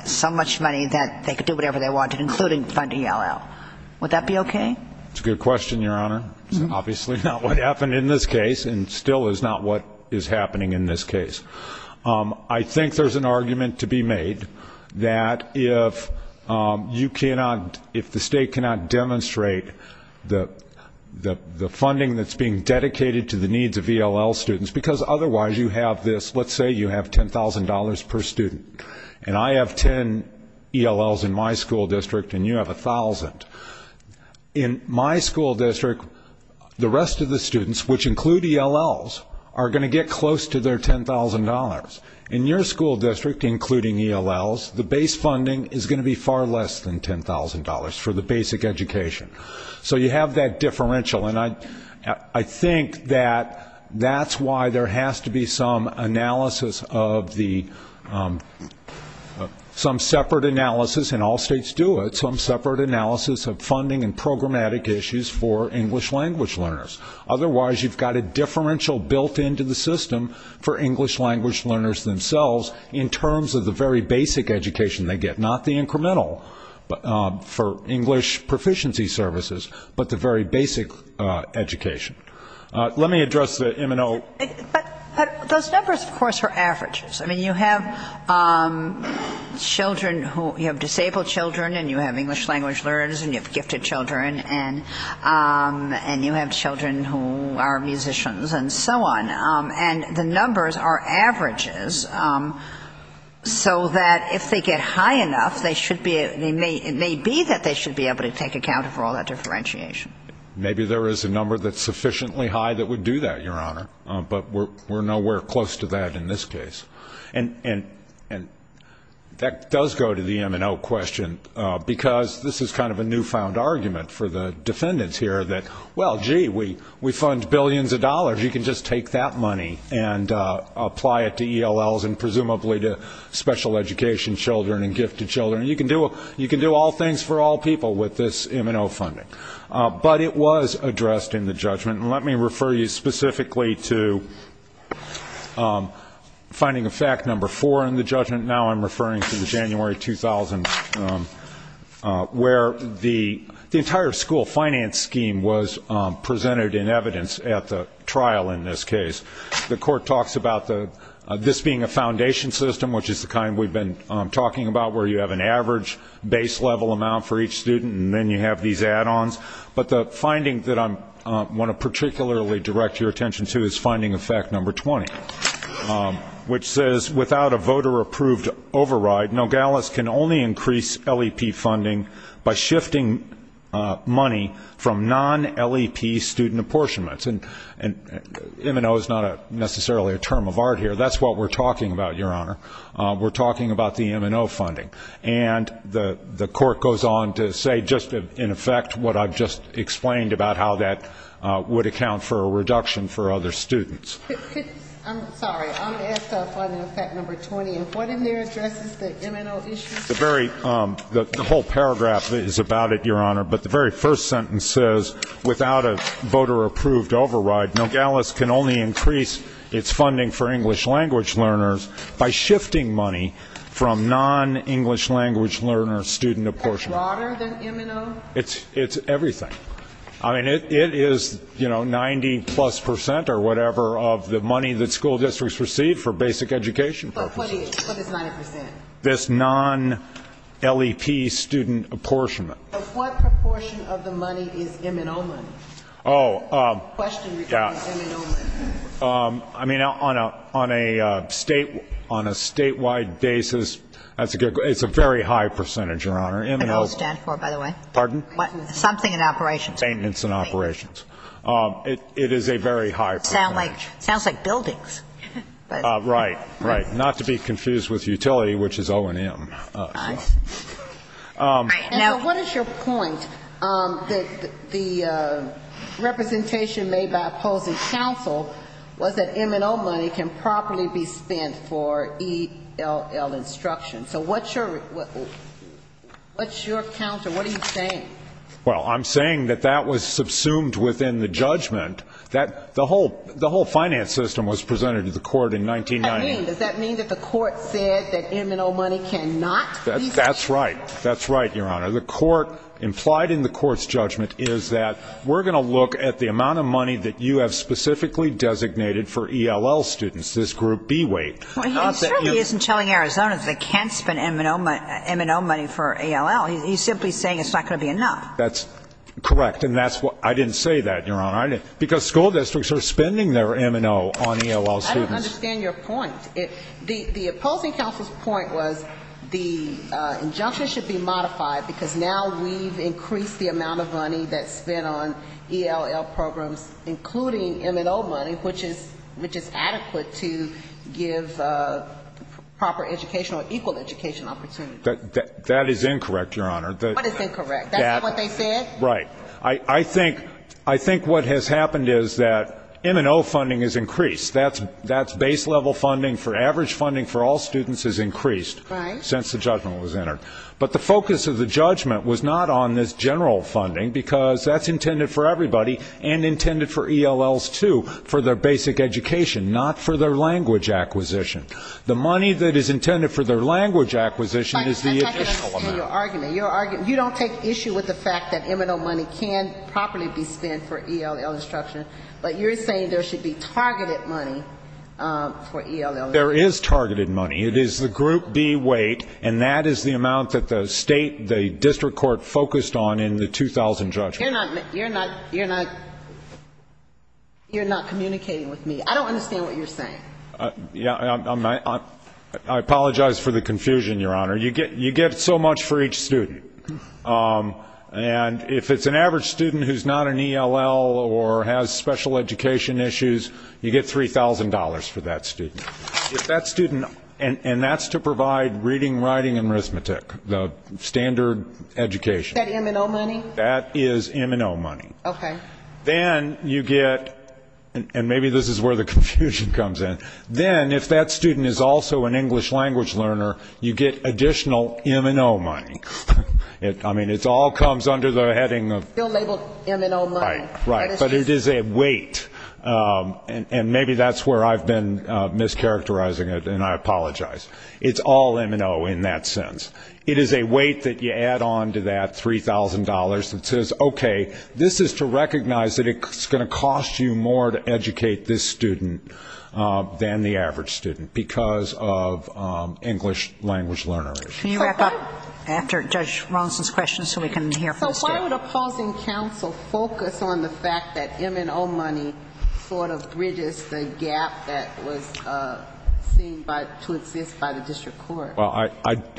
so much money that they could do whatever they wanted, including funding ELL. Would that be okay? It's a good question, Your Honor. It's obviously not what happened in this case and still is not what is happening in this case. I think there's an argument to be made that if you cannot, if the state cannot demonstrate the funding that's being dedicated to the needs of ELL students, because otherwise you have this, let's say you have $10,000 per student, and I have 10 ELLs in my school district and you have 1,000. In my school district, the rest of the students, which include ELLs, are going to get close to their $10,000. In your school district, including ELLs, the base funding is going to be far less than $10,000 for the basic education. So you have that differential, and I think that that's why there has to be some analysis of the, some separate analysis, and all states do it, some separate analysis of funding and programmatic issues for English language learners. Otherwise, you've got a differential built into the system for English language learners themselves in terms of the very basic education they get, not the incremental for English proficiency services, but the very basic education. Let me address the M&O. But those numbers, of course, are averages. I mean, you have children who, you have disabled children and you have English language learners and you have gifted children and you have children who are musicians and so on, and the numbers are averages so that if they get high enough, it may be that they should be able to take account for all that differentiation. Maybe there is a number that's sufficiently high that would do that, Your Honor, but we're nowhere close to that in this case. And that does go to the M&O question because this is kind of a newfound argument for the defendants here that, well, gee, we fund billions of dollars, you can just take that money and apply it to ELLs and presumably to special education children and gifted children. You can do all things for all people with this M&O funding. But it was addressed in the judgment. And let me refer you specifically to finding a fact number four in the judgment. Now I'm referring to the January 2000 where the entire school finance scheme was presented in evidence at the trial in this case. The court talks about this being a foundation system, which is the kind we've been talking about where you have an average base level amount for each student and then you have these add-ons. But the finding that I want to particularly direct your attention to is finding effect number 20, which says without a voter approved override, Nogales can only increase LEP funding by shifting money from non-LEP student apportionments. And M&O is not necessarily a term of art here. That's what we're talking about, Your Honor. We're talking about the M&O funding. And the court goes on to say just, in effect, what I've just explained about how that would account for a reduction for other students. I'm sorry. I'm going to ask on effect number 20. What in there addresses the M&O issue? The whole paragraph is about it, Your Honor. But the very first sentence says without a voter approved override, Nogales can only increase its funding for English language learners by shifting money from non-English language learner student apportionments. Is that broader than M&O? It's everything. I mean, it is, you know, 90 plus percent or whatever of the money that school districts receive for basic education purposes. But what is 90 percent? This non-LEP student apportionment. But what proportion of the money is M&O money? Oh, yeah. I mean, on a statewide basis, it's a very high percentage, Your Honor. What does M&O stand for, by the way? Pardon? Something in operations. Maintenance and operations. It is a very high percentage. Sounds like buildings. Right, right. Not to be confused with utility, which is O&M. What is your point that the representation made by opposing counsel was that M&O money can properly be spent for ELL instruction? So what's your counsel, what are you saying? Well, I'm saying that that was subsumed within the judgment. The whole finance system was presented to the court in 1990. Does that mean that the court said that M&O money cannot be spent? That's right. That's right, Your Honor. The court implied in the court's judgment is that we're going to look at the amount of money that you have specifically designated for ELL students, this group B-weight. Well, he clearly isn't telling Arizonans they can't spend M&O money for ELL. He's simply saying it's not going to be enough. That's correct, and that's why I didn't say that, Your Honor, because school districts are spending their M&O on ELL students. I don't understand your point. The opposing counsel's point was the injunction should be modified because now we've increased the amount of money that's spent on ELL programs, including M&O money, which is adequate to give proper education or equal education opportunities. That is incorrect, Your Honor. What is incorrect? That's not what they said? Right. I think what has happened is that M&O funding has increased. That's base-level funding for average funding for all students has increased since the judgment was entered, but the focus of the judgment was not on this general funding because that's intended for everybody and intended for ELLs, too, for their basic education, not for their language acquisition. The money that is intended for their language acquisition is the additional amount. You don't take issue with the fact that M&O money can properly be spent for ELL instruction, but you're saying there should be targeted money for ELL instruction. There is targeted money. It is the group B weight, and that is the amount that the state, the district court focused on in the 2000 judgment. You're not communicating with me. I don't understand what you're saying. I apologize for the confusion, Your Honor. You get so much for each student, and if it's an average student who's not an ELL or has special education issues, you get $3,000 for that student, and that's to provide reading, writing, and arithmetic, the standard education. Is that M&O money? That is M&O money. Okay. Then you get, and maybe this is where the confusion comes in, then if that student is also an English language learner, you get additional M&O money. It's all comes under the heading of M&O money. Right, but it is a weight, and maybe that's where I've been mischaracterizing it, and I apologize. It's all M&O in that sense. It is a weight that you add on to that $3,000 that says, okay, this is to recognize that it's going to cost you more to educate this student than the average student because of English language learner issues. Can you wrap up after Judge Rawson's question so we can hear from the staff? So why would a closing counsel focus on the fact that M&O money sort of bridges the gap that was seen to exist by the district court? Well,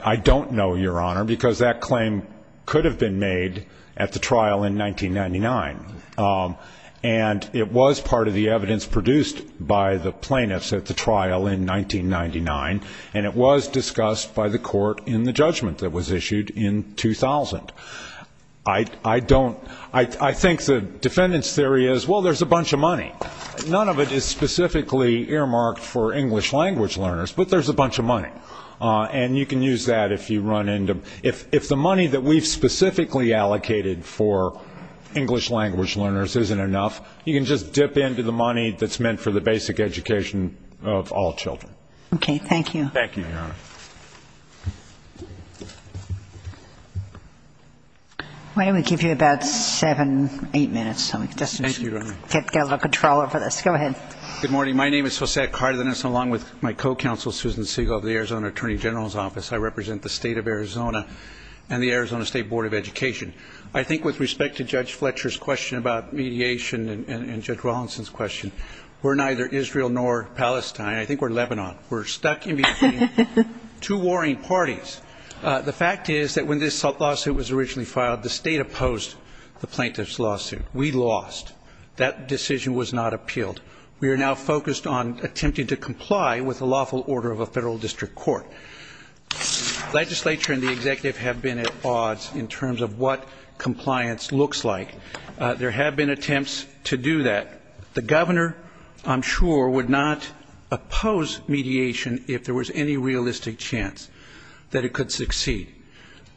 I don't know, Your Honor, because that claim could have been made at the trial in 1999, and it was part of the evidence produced by the plaintiffs at the trial in 1999, and it was discussed by the court in the judgment that was issued in 2000. I think the defendant's theory is, well, there's a bunch of money. None of it is specifically earmarked for English language learners, but there's a bunch of money, and you can use that if you run into them. If the money that we've specifically allocated for English language learners isn't enough, you can just dip into the money that's meant for the basic education of all children. Thank you, Your Honor. I'm going to give you about seven, eight minutes. Thank you, Your Honor. Get a little controller for this. Go ahead. Good morning. My name is Josiah Cardenas, and along with my co-counsel, Susan Segal, of the Arizona Attorney General's Office, I represent the state of Arizona and the Arizona State Board of Education. I think with respect to Judge Fletcher's question about mediation and Judge Rawson's question, we're neither Israel nor Palestine. I think we're Lebanon. We're stuck in between two warring parties. The fact is that when this lawsuit was originally filed, the state opposed the plaintiff's lawsuit. We lost. That decision was not appealed. We are now focused on attempting to comply with the lawful order of a federal district court. The legislature and the executive have been at odds in terms of what compliance looks like. There have been attempts to do that. The governor, I'm sure, would not oppose mediation if there was any realistic chance that it could succeed.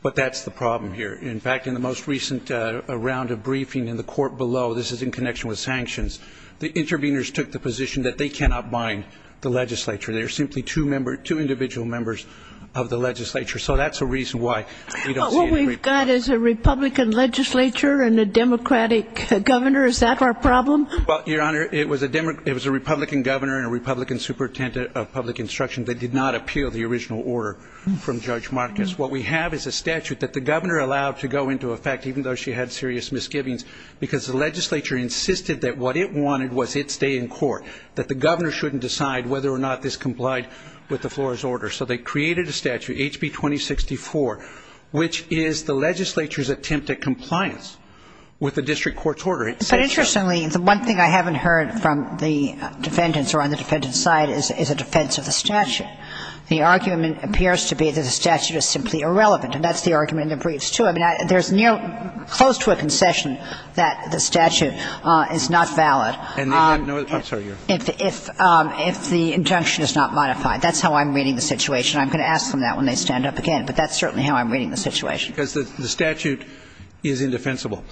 But that's the problem here. In fact, in the most recent round of briefing in the court below, this is in connection with sanctions, the interveners took the position that they cannot bind the legislature. They are simply two individual members of the legislature. So that's a reason why we don't see anything. What we've got is a Republican legislature and a Democratic governor. Is that our problem? Well, Your Honor, it was a Republican governor and a Republican superintendent of public instruction that did not appeal the original order from Judge Marcus. What we have is a statute that the governor allowed to go into effect even though she had serious misgivings because the legislature insisted that what it wanted was it stay in court, that the governor shouldn't decide whether or not this complied with the floor's order. So they created a statute, HB 2064, which is the legislature's attempt at compliance with the district court's order. But interestingly, the one thing I haven't heard from the defendants or on the defendant's side is a defense of the statute. The argument appears to be that the statute is simply irrelevant, and that's the argument in the briefs, too. I mean, there's near close to a concession that the statute is not valid if the injunction is not modified. That's how I'm reading the situation. I'm going to ask them that when they stand up again, but that's certainly how I'm reading the situation. Because the statute is indefensible.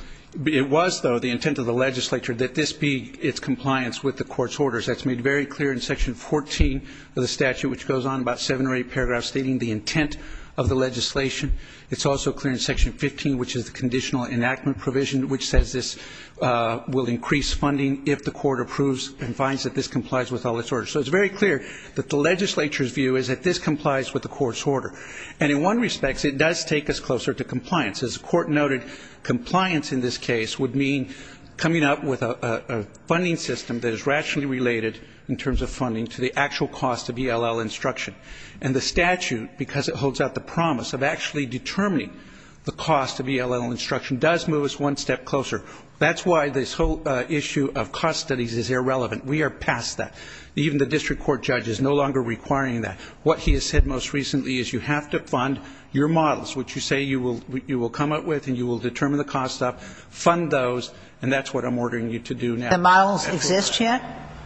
It was, though, the intent of the legislature that this be its compliance with the court's orders. That's made very clear in Section 14 of the statute, which goes on about seven or eight paragraphs stating the intent of the legislation. It's also clear in Section 15, which is the conditional enactment provision, which says this will increase funding if the court approves and finds that this complies with all its orders. So it's very clear that the legislature's view is that this complies with the court's order. And in one respect, it does take us closer to compliance. As the court noted, compliance in this case would mean coming up with a funding system that is rationally related in terms of funding to the actual cost of ELL instruction. And the statute, because it holds out the promise of actually determining the cost of ELL instruction, does move us one step closer. That's why this whole issue of cost studies is irrelevant. We are past that. Even the district court judge is no longer requiring that. What he has said most recently is you have to fund your models, which you say you will come up with and you will determine the cost of, fund those, and that's what I'm ordering you to do now. The models exist yet?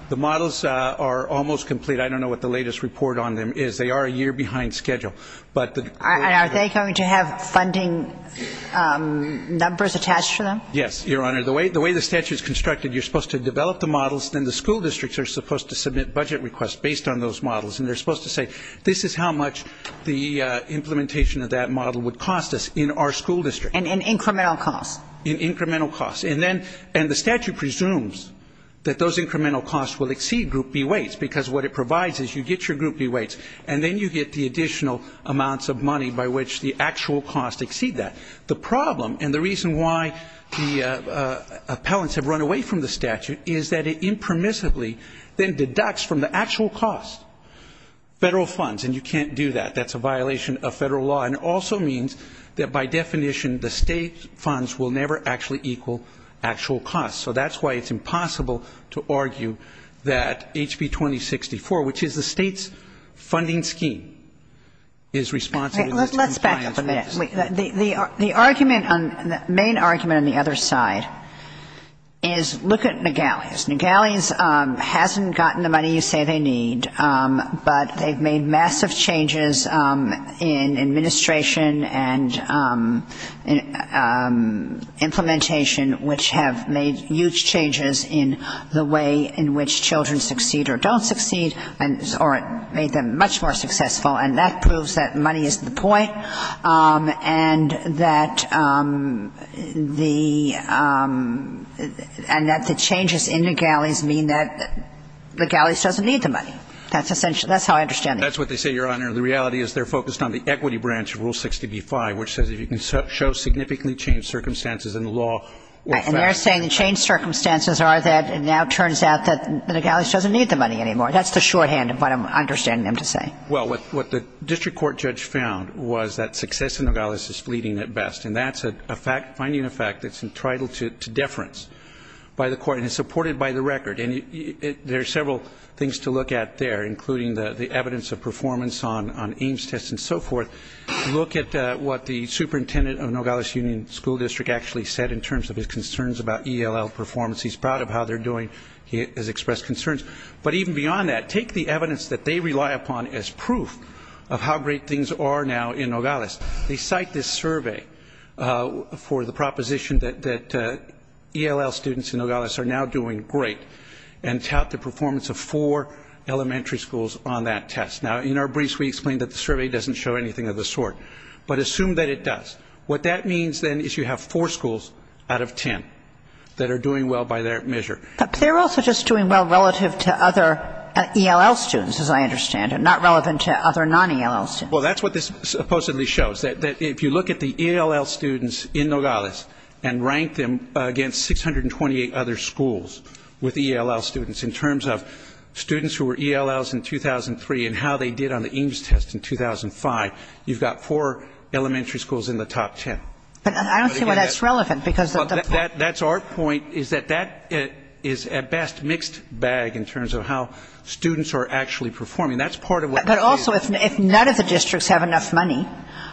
The models are almost complete. I don't know what the latest report on them is. They are a year behind schedule. And are they going to have funding numbers attached to them? Yes, Your Honor. The way the statute is constructed, you're supposed to develop the models, then the school districts are supposed to submit budget requests based on those models. And they're supposed to say this is how much the implementation of that model would cost us in our school district. And incremental costs. And incremental costs. And the statute presumes that those incremental costs will exceed group B weights because what it provides is you get your group B weights and then you get the additional amounts of money by which the actual costs exceed that. The problem and the reason why the appellants have run away from the statute is that it impermissibly then deducts from the actual cost federal funds. And you can't do that. That's a violation of federal law. And it also means that by definition the state's funds will never actually equal actual costs. So that's why it's impossible to argue that HB 2064, which is the state's funding scheme, is responsible for this. The argument, the main argument on the other side, is look at McGalley's. McGalley's hasn't gotten the money you say they need, but they've made massive changes in administration and implementation which have made huge changes in the way in which children succeed or don't succeed, or it made them much more successful. And that proves that money is the point and that the changes in McGalley's mean that McGalley's doesn't need the money. That's how I understand it. That's what they say, Your Honor. The reality is they're focused on the equity branch of Rule 635, which says you can show significantly changed circumstances in the law. And they're saying the changed circumstances are that it now turns out that McGalley's doesn't need the money anymore. That's the shorthand of what I'm understanding them to say. Well, what the district court judge found was that success in McGalley's is bleeding at best, and that's finding a fact that's entitled to deference by the court and supported by the record. And there are several things to look at there, including the evidence of performance on Ames tests and so forth. Look at what the superintendent of McGalley's Union School District actually said in terms of his concerns about ELL performance. He's proud of how they're doing. He has expressed concerns. But even beyond that, take the evidence that they rely upon as proof of how great things are now in McGalley's. They cite this survey for the proposition that ELL students in McGalley's are now doing great and tout the performance of four elementary schools on that test. Now, in our briefs, we explained that the survey doesn't show anything of the sort. But assume that it does. What that means, then, is you have four schools out of ten that are doing well by that measure. But they're also just doing well relative to other ELL students, as I understand, and not relevant to other non-ELL students. Well, that's what this supposedly shows, that if you look at the ELL students in McGalley's and rank them against 628 other schools with ELL students in terms of students who were ELLs in 2003 and how they did on the Ames test in 2005, you've got four elementary schools in the top ten. But I don't see why that's relevant. That's our point, is that that is, at best, mixed bag in terms of how students are actually performing. But also, if none of the districts have enough money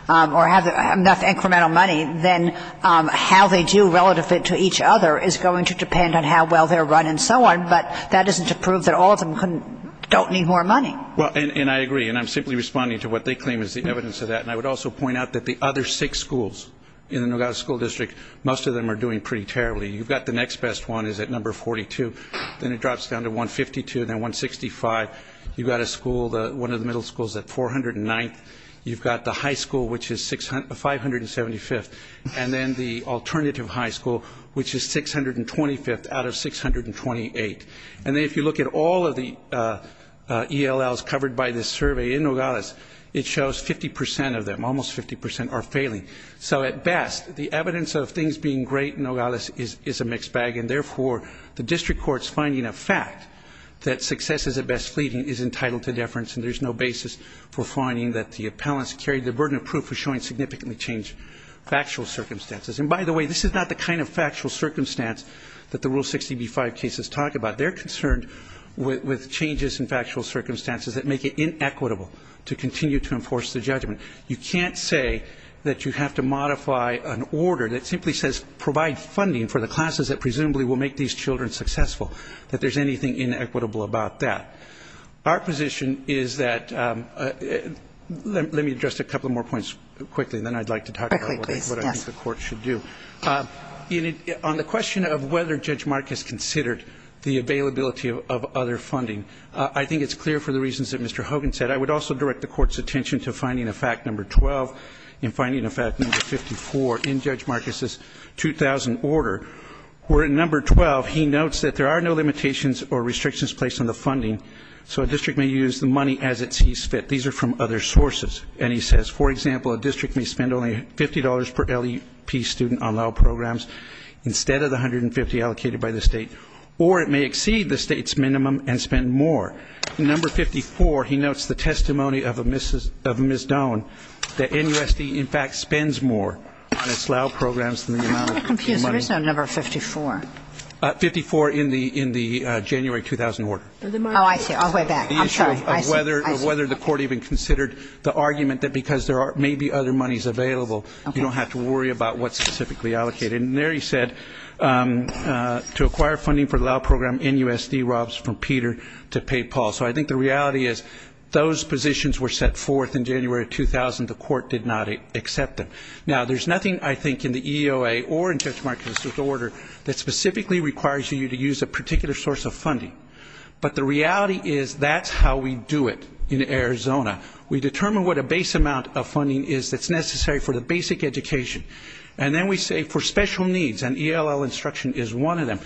or have enough incremental money, then how they do relative to each other is going to depend on how well they're running and so on. But that isn't to prove that all of them don't need more money. And I agree, and I'm simply responding to what they claim is the evidence of that. And I would also point out that the other six schools in the Nogales School District, most of them are doing pretty terribly. You've got the next best one is at number 42, then it drops down to 152, then 165. You've got a school, one of the middle schools at 409th. You've got the high school, which is 575th. And then the alternative high school, which is 625th out of 628. And then if you look at all of the ELLs covered by this survey in Nogales, it shows 50% of them, almost 50% are failing. So at best, the evidence of things being great in Nogales is a mixed bag, and therefore the district court's finding a fact that success is at best fleeting is entitled to deference, and there's no basis for finding that the appellants carried the burden of proof for showing significantly changed factual circumstances. And by the way, this is not the kind of factual circumstance that the Rule 60b-5 case is talking about. They're concerned with changes in factual circumstances that make it inequitable to continue to enforce the judgment. You can't say that you have to modify an order that simply says provide funding for the classes that presumably will make these children successful, that there's anything inequitable about that. Our position is that let me address a couple more points quickly, and then I'd like to talk about what I think the court should do. On the question of whether Judge Marcus considered the availability of other funding, I think it's clear for the reasons that Mr. Hogan said. I would also direct the court's attention to finding a fact number 12 and finding a fact number 54 in Judge Marcus's 2000 order, where in number 12, he notes that there are no limitations or restrictions placed on the funding, so a district may use the money as it sees fit. These are from other sources. And he says, for example, a district may spend only $50 per LEP student on LAL programs instead of the $150 allocated by the state, or it may exceed the state's minimum and spend more. In number 54, he notes the testimony of Ms. Doan that NUSD, in fact, spends more on its LAL programs than the amount of money. I'm a little confused. There is no number 54. 54 in the January 2000 order. Oh, I see. I'll go back. I'm sorry. Whether the court even considered the argument that because there may be other monies available, you don't have to worry about what's specifically allocated. And there he said, to acquire funding for the LAL program, NUSD robs from Peter to pay Paul. So I think the reality is those positions were set forth in January 2000. The court did not accept them. Now, there's nothing, I think, in the EOA or in Judge Marcus's order that specifically requires you to use a particular source of funding. But the reality is that's how we do it in Arizona. We determine what a base amount of funding is that's necessary for the basic education. And then we say for special needs, and ELL instruction is one of them,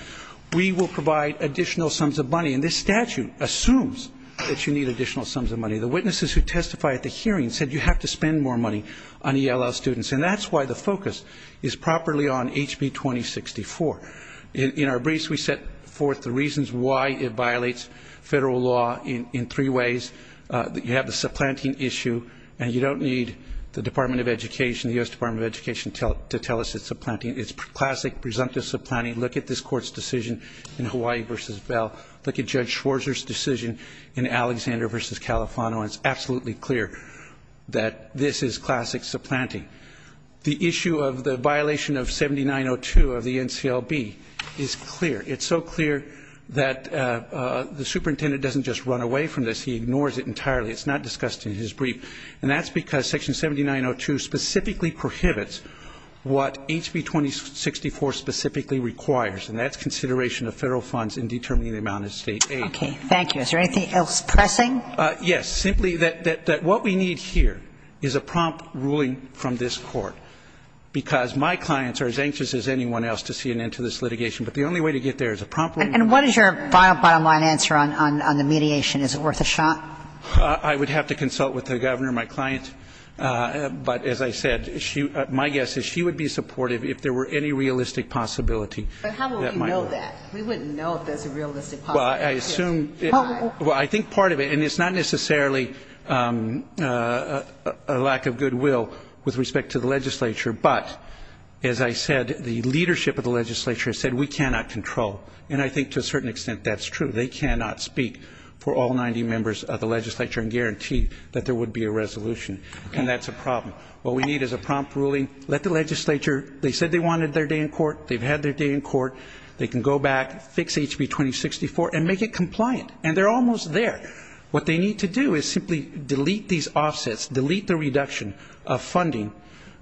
we will provide additional sums of money. And this statute assumes that you need additional sums of money. The witnesses who testified at the hearing said you have to spend more money on ELL students. And that's why the focus is properly on HB 2064. In our briefs, we set forth the reasons why it violates federal law in three ways. You have the supplanting issue, and you don't need the Department of Education, the U.S. Department of Education, to tell us it's supplanting. It's classic, presumptive supplanting. Look at this court's decision in Hawaii v. Bell. Look at Judge Schwarzer's decision in Alexander v. Califano, and it's absolutely clear that this is classic supplanting. The issue of the violation of 7902 of the NCLB is clear. It's so clear that the superintendent doesn't just run away from this. He ignores it entirely. It's not discussed in his brief. And that's because Section 7902 specifically prohibits what HB 2064 specifically requires, and that's consideration of federal funds in determining the amount of state aid. Okay, thank you. Is there anything else pressing? Yes, simply that what we need here is a prompt ruling from this court because my clients are as anxious as anyone else to see an end to this litigation. But the only way to get there is a prompt ruling. And what is your bottom line answer on the mediation? Is it worth a shot? I would have to consult with the governor, my client. But as I said, my guess is she would be supportive if there were any realistic possibility. But how would we know that? We wouldn't know if that's a realistic possibility. Well, I think part of it, and it's not necessarily a lack of goodwill with respect to the legislature, but as I said, the leadership of the legislature has said we cannot control. And I think to a certain extent that's true. They cannot speak for all 90 members of the legislature and guarantee that there would be a resolution, and that's a problem. What we need is a prompt ruling. Let the legislature. They said they wanted their day in court. They've had their day in court. They can go back, fix HB 2064, and make it compliant. And they're almost there. What they need to do is simply delete these offsets, delete the reduction of funding.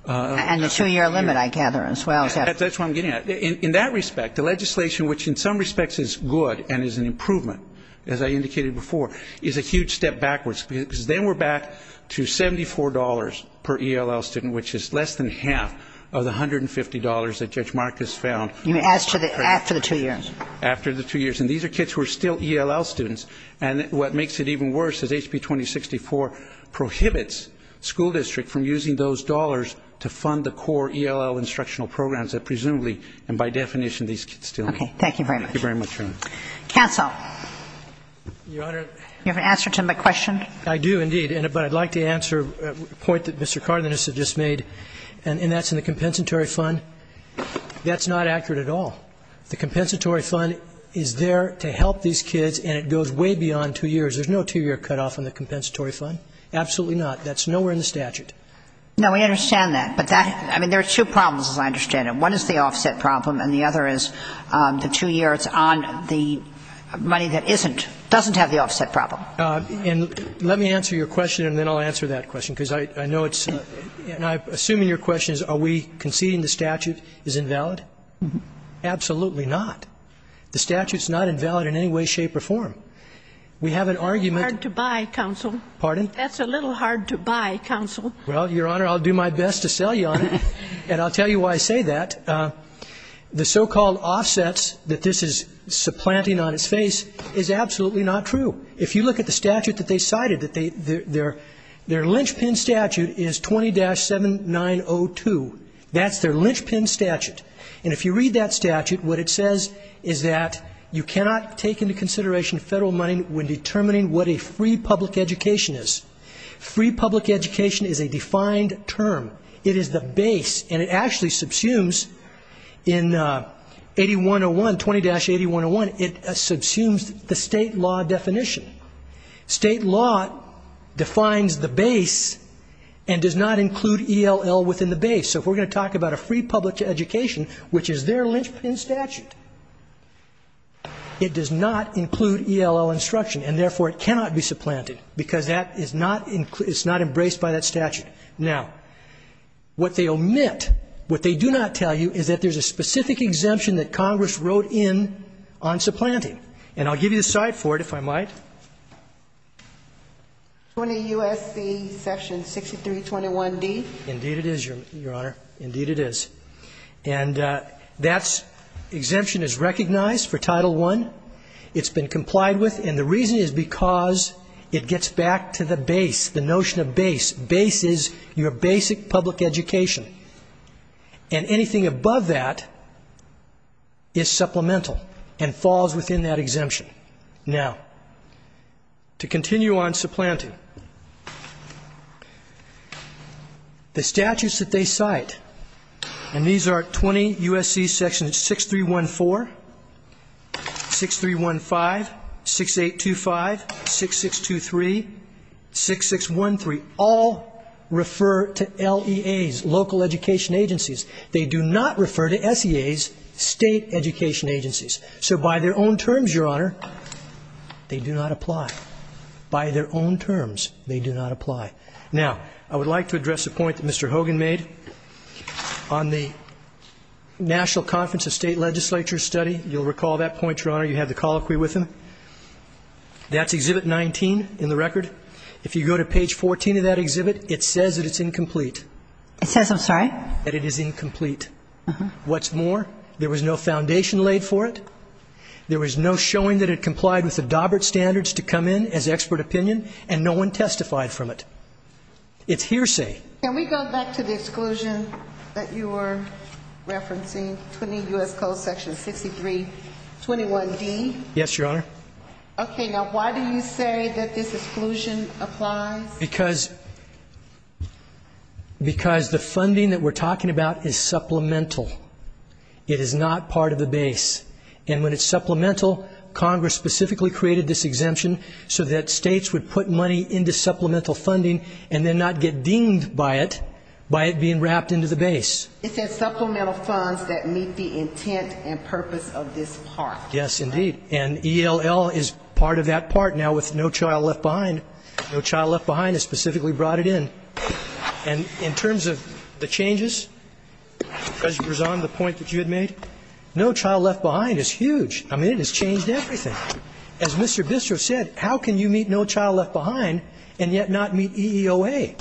And the two-year limit, I gather, as well. That's what I'm getting at. In that respect, the legislation, which in some respects is good and is an improvement, as I indicated before, is a huge step backwards because then we're back to $74 per ELL student, which is less than half of the $150 that Judge Marcus found. You mean after the two years? After the two years. And these are kids who are still ELL students. And what makes it even worse is HB 2064 prohibits school district from using those dollars to fund the core ELL instructional programs that presumably, and by definition, these kids still need. Okay. Thank you very much. Thank you very much, Your Honor. Counsel. Your Honor. You have an answer to my question? I do, indeed. But I'd like to answer a point that Mr. Cardenas has just made, and that's in the compensatory fund. That's not accurate at all. The compensatory fund is there to help these kids, and it goes way beyond two years. There's no two-year cutoff on the compensatory fund. Absolutely not. That's nowhere in the statute. No, we understand that. But that, I mean, there are two problems, as I understand it. One is the offset problem, and the other is the two years on the money that isn't, doesn't have the offset problem. And let me answer your question, and then I'll answer that question because I know it's, And I'm assuming your question is, are we conceding the statute is invalid? Absolutely not. The statute's not invalid in any way, shape, or form. We have an argument. It's hard to buy, Counsel. Pardon? That's a little hard to buy, Counsel. Well, Your Honor, I'll do my best to sell you on it, and I'll tell you why I say that. The so-called offsets that this is supplanting on its face is absolutely not true. If you look at the statute that they cited, their linchpin statute is 20-7902. That's their linchpin statute. And if you read that statute, what it says is that you cannot take into consideration federal money when determining what a free public education is. Free public education is a defined term. It is the base, and it actually subsumes in 8101, 20-8101. It subsumes the state law definition. State law defines the base and does not include ELL within the base. So if we're going to talk about a free public education, which is their linchpin statute, it does not include ELL instruction, and therefore it cannot be supplanted because that is not embraced by that statute. Now, what they omit, what they do not tell you, is that there's a specific exemption that Congress wrote in on supplanting. And I'll give you the slide for it, if I might. Indeed it is, Your Honor. Indeed it is. And that exemption is recognized for Title I. It's been complied with, and the reason is because it gets back to the base, the notion of base. Base is your basic public education, and anything above that is supplemental and falls within that exemption. Now, to continue on supplanting, the statutes that they cite, and these are 20 U.S.C. Sections 6314, 6315, 6825, 6623, 6613, all refer to LEAs, local education agencies. They do not refer to FEAs, state education agencies. So by their own terms, Your Honor, they do not apply. By their own terms, they do not apply. Now, I would like to address a point that Mr. Hogan made. On the National Conference of State Legislatures study, you'll recall that point, Your Honor. You had the colloquy with him. That's Exhibit 19 in the record. If you go to page 14 of that exhibit, it says that it's incomplete. It says, I'm sorry? That it is incomplete. What's more, there was no foundation laid for it. There was no showing that it complied with the Daubert Standards to come in as expert opinion, and no one testified from it. It's hearsay. Can we go back to the exclusion that you were referencing, 20 U.S. Code Section 6321D? Yes, Your Honor. Okay, now why do you say that this exclusion applies? Because the funding that we're talking about is supplemental. It is not part of the base. And when it's supplemental, Congress specifically created this exemption so that states would put money into supplemental funding and then not get dinged by it by it being wrapped into the base. It says supplemental funds that meet the intent and purpose of this part. Yes, indeed. And ELL is part of that part now with No Child Left Behind. No Child Left Behind has specifically brought it in. And in terms of the changes, President Berzon, the point that you had made, No Child Left Behind is huge. I mean, it has changed everything. As Mr. Bisser said, how can you meet No Child Left Behind and yet not meet EEOA?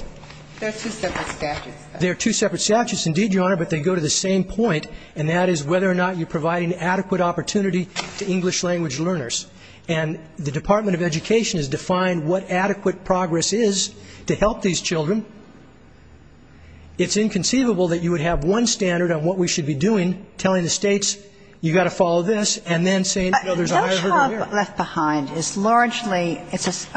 There are two separate statutes. There are two separate statutes, indeed, Your Honor, but they go to the same point, and that is whether or not you provide an adequate opportunity to English language learners. And the Department of Education has defined what adequate progress is to help these children. It's inconceivable that you would have one standard on what we should be doing, telling the states, you've got to follow this, and then saying others are over here. No Child Left Behind is largely, it's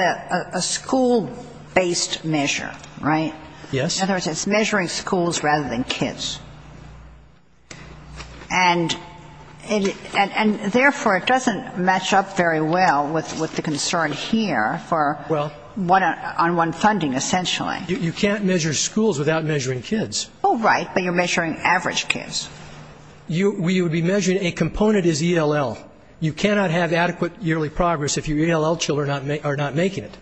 a school-based measure, right? Yes. And, therefore, it doesn't match up very well with the concern here for one-on-one funding, essentially. You can't measure schools without measuring kids. Oh, right, but you're measuring average kids. You would be measuring a component as ELL. You cannot have adequate yearly progress if your ELL children are not making it.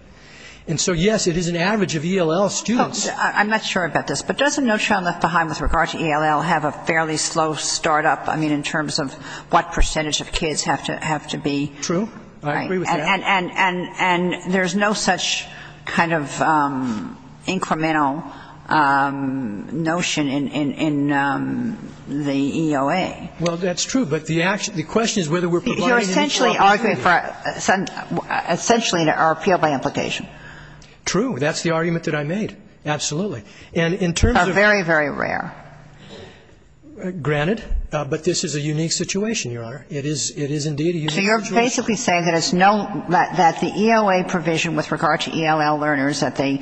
And so, yes, it is an average of ELL students. I'm not sure about this, but doesn't No Child Left Behind, with regard to ELL, have a fairly slow start-up, I mean, in terms of what percentage of kids have to be? True, I agree with that. And there's no such kind of incremental notion in the EOA. Well, that's true, but the question is whether we're providing an equal opportunity. You're essentially arguing for, essentially, an appeal by implication. True, that's the argument that I made, absolutely. Very, very rare. Granted, but this is a unique situation, Your Honor. It is, indeed, a unique situation. So you're basically saying that the EOA provision with regard to ELL learners, that they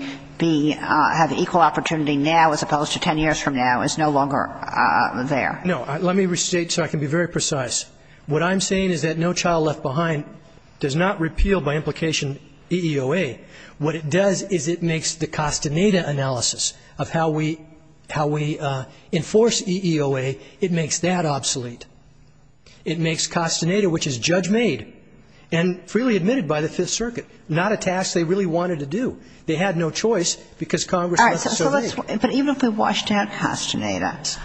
have equal opportunity now as opposed to 10 years from now, is no longer there. No, let me restate so I can be very precise. What I'm saying is that No Child Left Behind does not repeal by implication EEOA. What it does is it makes the Costaneda analysis of how we enforce EEOA, it makes that obsolete. It makes Costaneda, which is judge-made and freely admitted by the Fifth Circuit, not a task they really wanted to do. They had no choice because Congress left it so easy. But even if we washed out Costaneda,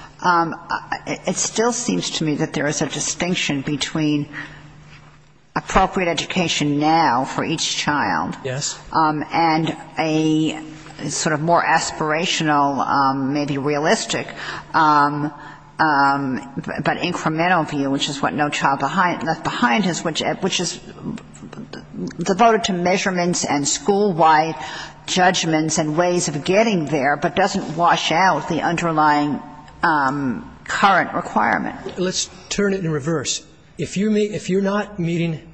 it still seems to me that there is a distinction between appropriate education now for each child and a sort of more aspirational, maybe realistic, but incremental view, which is what No Child Left Behind is, which is devoted to measurements and school-wise judgments and ways of getting there but doesn't wash out the underlying current requirements. Let's turn it in reverse. If you're not meeting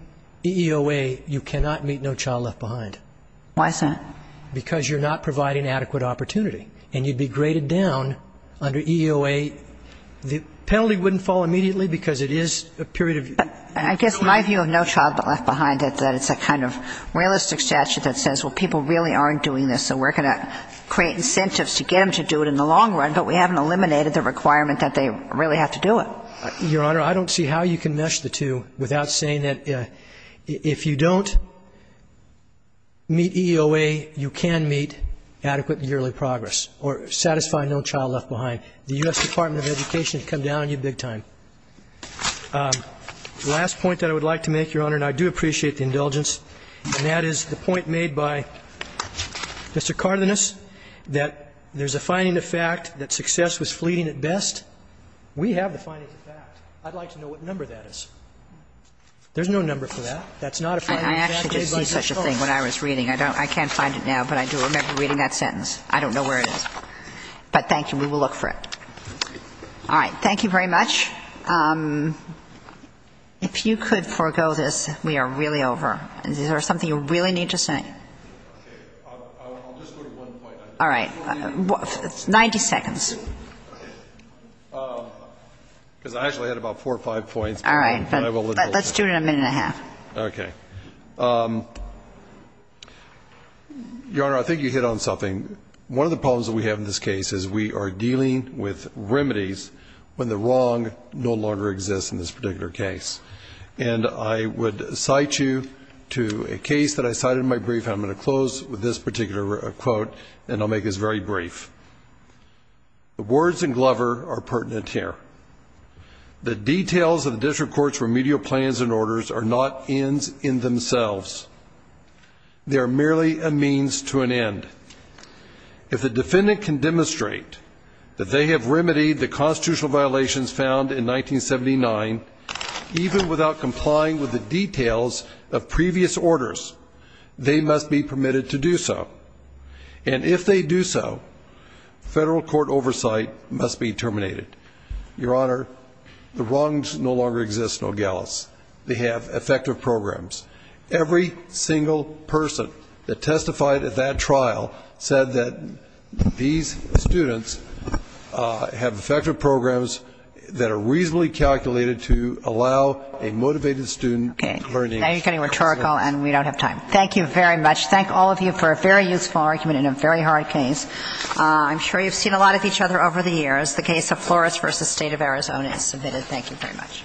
EEOA, you cannot meet No Child Left Behind. Why is that? Because you're not providing adequate opportunity, and you'd be graded down under EEOA. The penalty wouldn't fall immediately because it is a period of... I guess my view of No Child Left Behind is that it's a kind of realistic statute that says, well, people really aren't doing this, and we're going to create incentives to get them to do it in the long run, but we haven't eliminated the requirement that they really have to do it. Your Honor, I don't see how you can mesh the two without saying that if you don't meet EEOA, you can meet adequate and yearly progress or satisfy No Child Left Behind. The U.S. Department of Education has come down on you big time. The last point that I would like to make, Your Honor, and I do appreciate the indulgence, and that is the point made by Mr. Cardenas that there's a finding of fact that success was fleeting at best. We have the finding of fact. I'd like to know what number that is. There's no number for that. That's not a fact. I actually did see such a thing when I was reading. I can't find it now, but I do remember reading that sentence. I don't know where it is. But thank you. We will look for it. All right. Thank you very much. If you could forego this, we are really over. Is there something you really need to say? All right. 90 seconds. All right. Let's do it in a minute and a half. Okay. Your Honor, I think you hit on something. One of the problems that we have in this case is we are dealing with remedies when the wrong no longer exists in this particular case. And I would cite you to a case that I cited in my brief. I'm going to close with this particular quote, and I'll make this very brief. The words in Glover are pertinent here. The details of the district court's remedial plans and orders are not ends in themselves. They are merely a means to an end. If the defendant can demonstrate that they have remedied the constitutional violations found in 1979, even without complying with the details of previous orders, they must be permitted to do so. And if they do so, federal court oversight must be terminated. Your Honor, the wrongs no longer exist in Nogales. They have effective programs. Every single person that testified at that trial said that these students have effective programs that are reasonably calculated to allow a motivated student. Okay. Now you're getting rhetorical and we don't have time. Thank you very much. Thank all of you for a very useful argument in a very hard case. I'm sure you've seen a lot of each other over the years. The case of Flores v. State of Arizona is submitted. Thank you very much.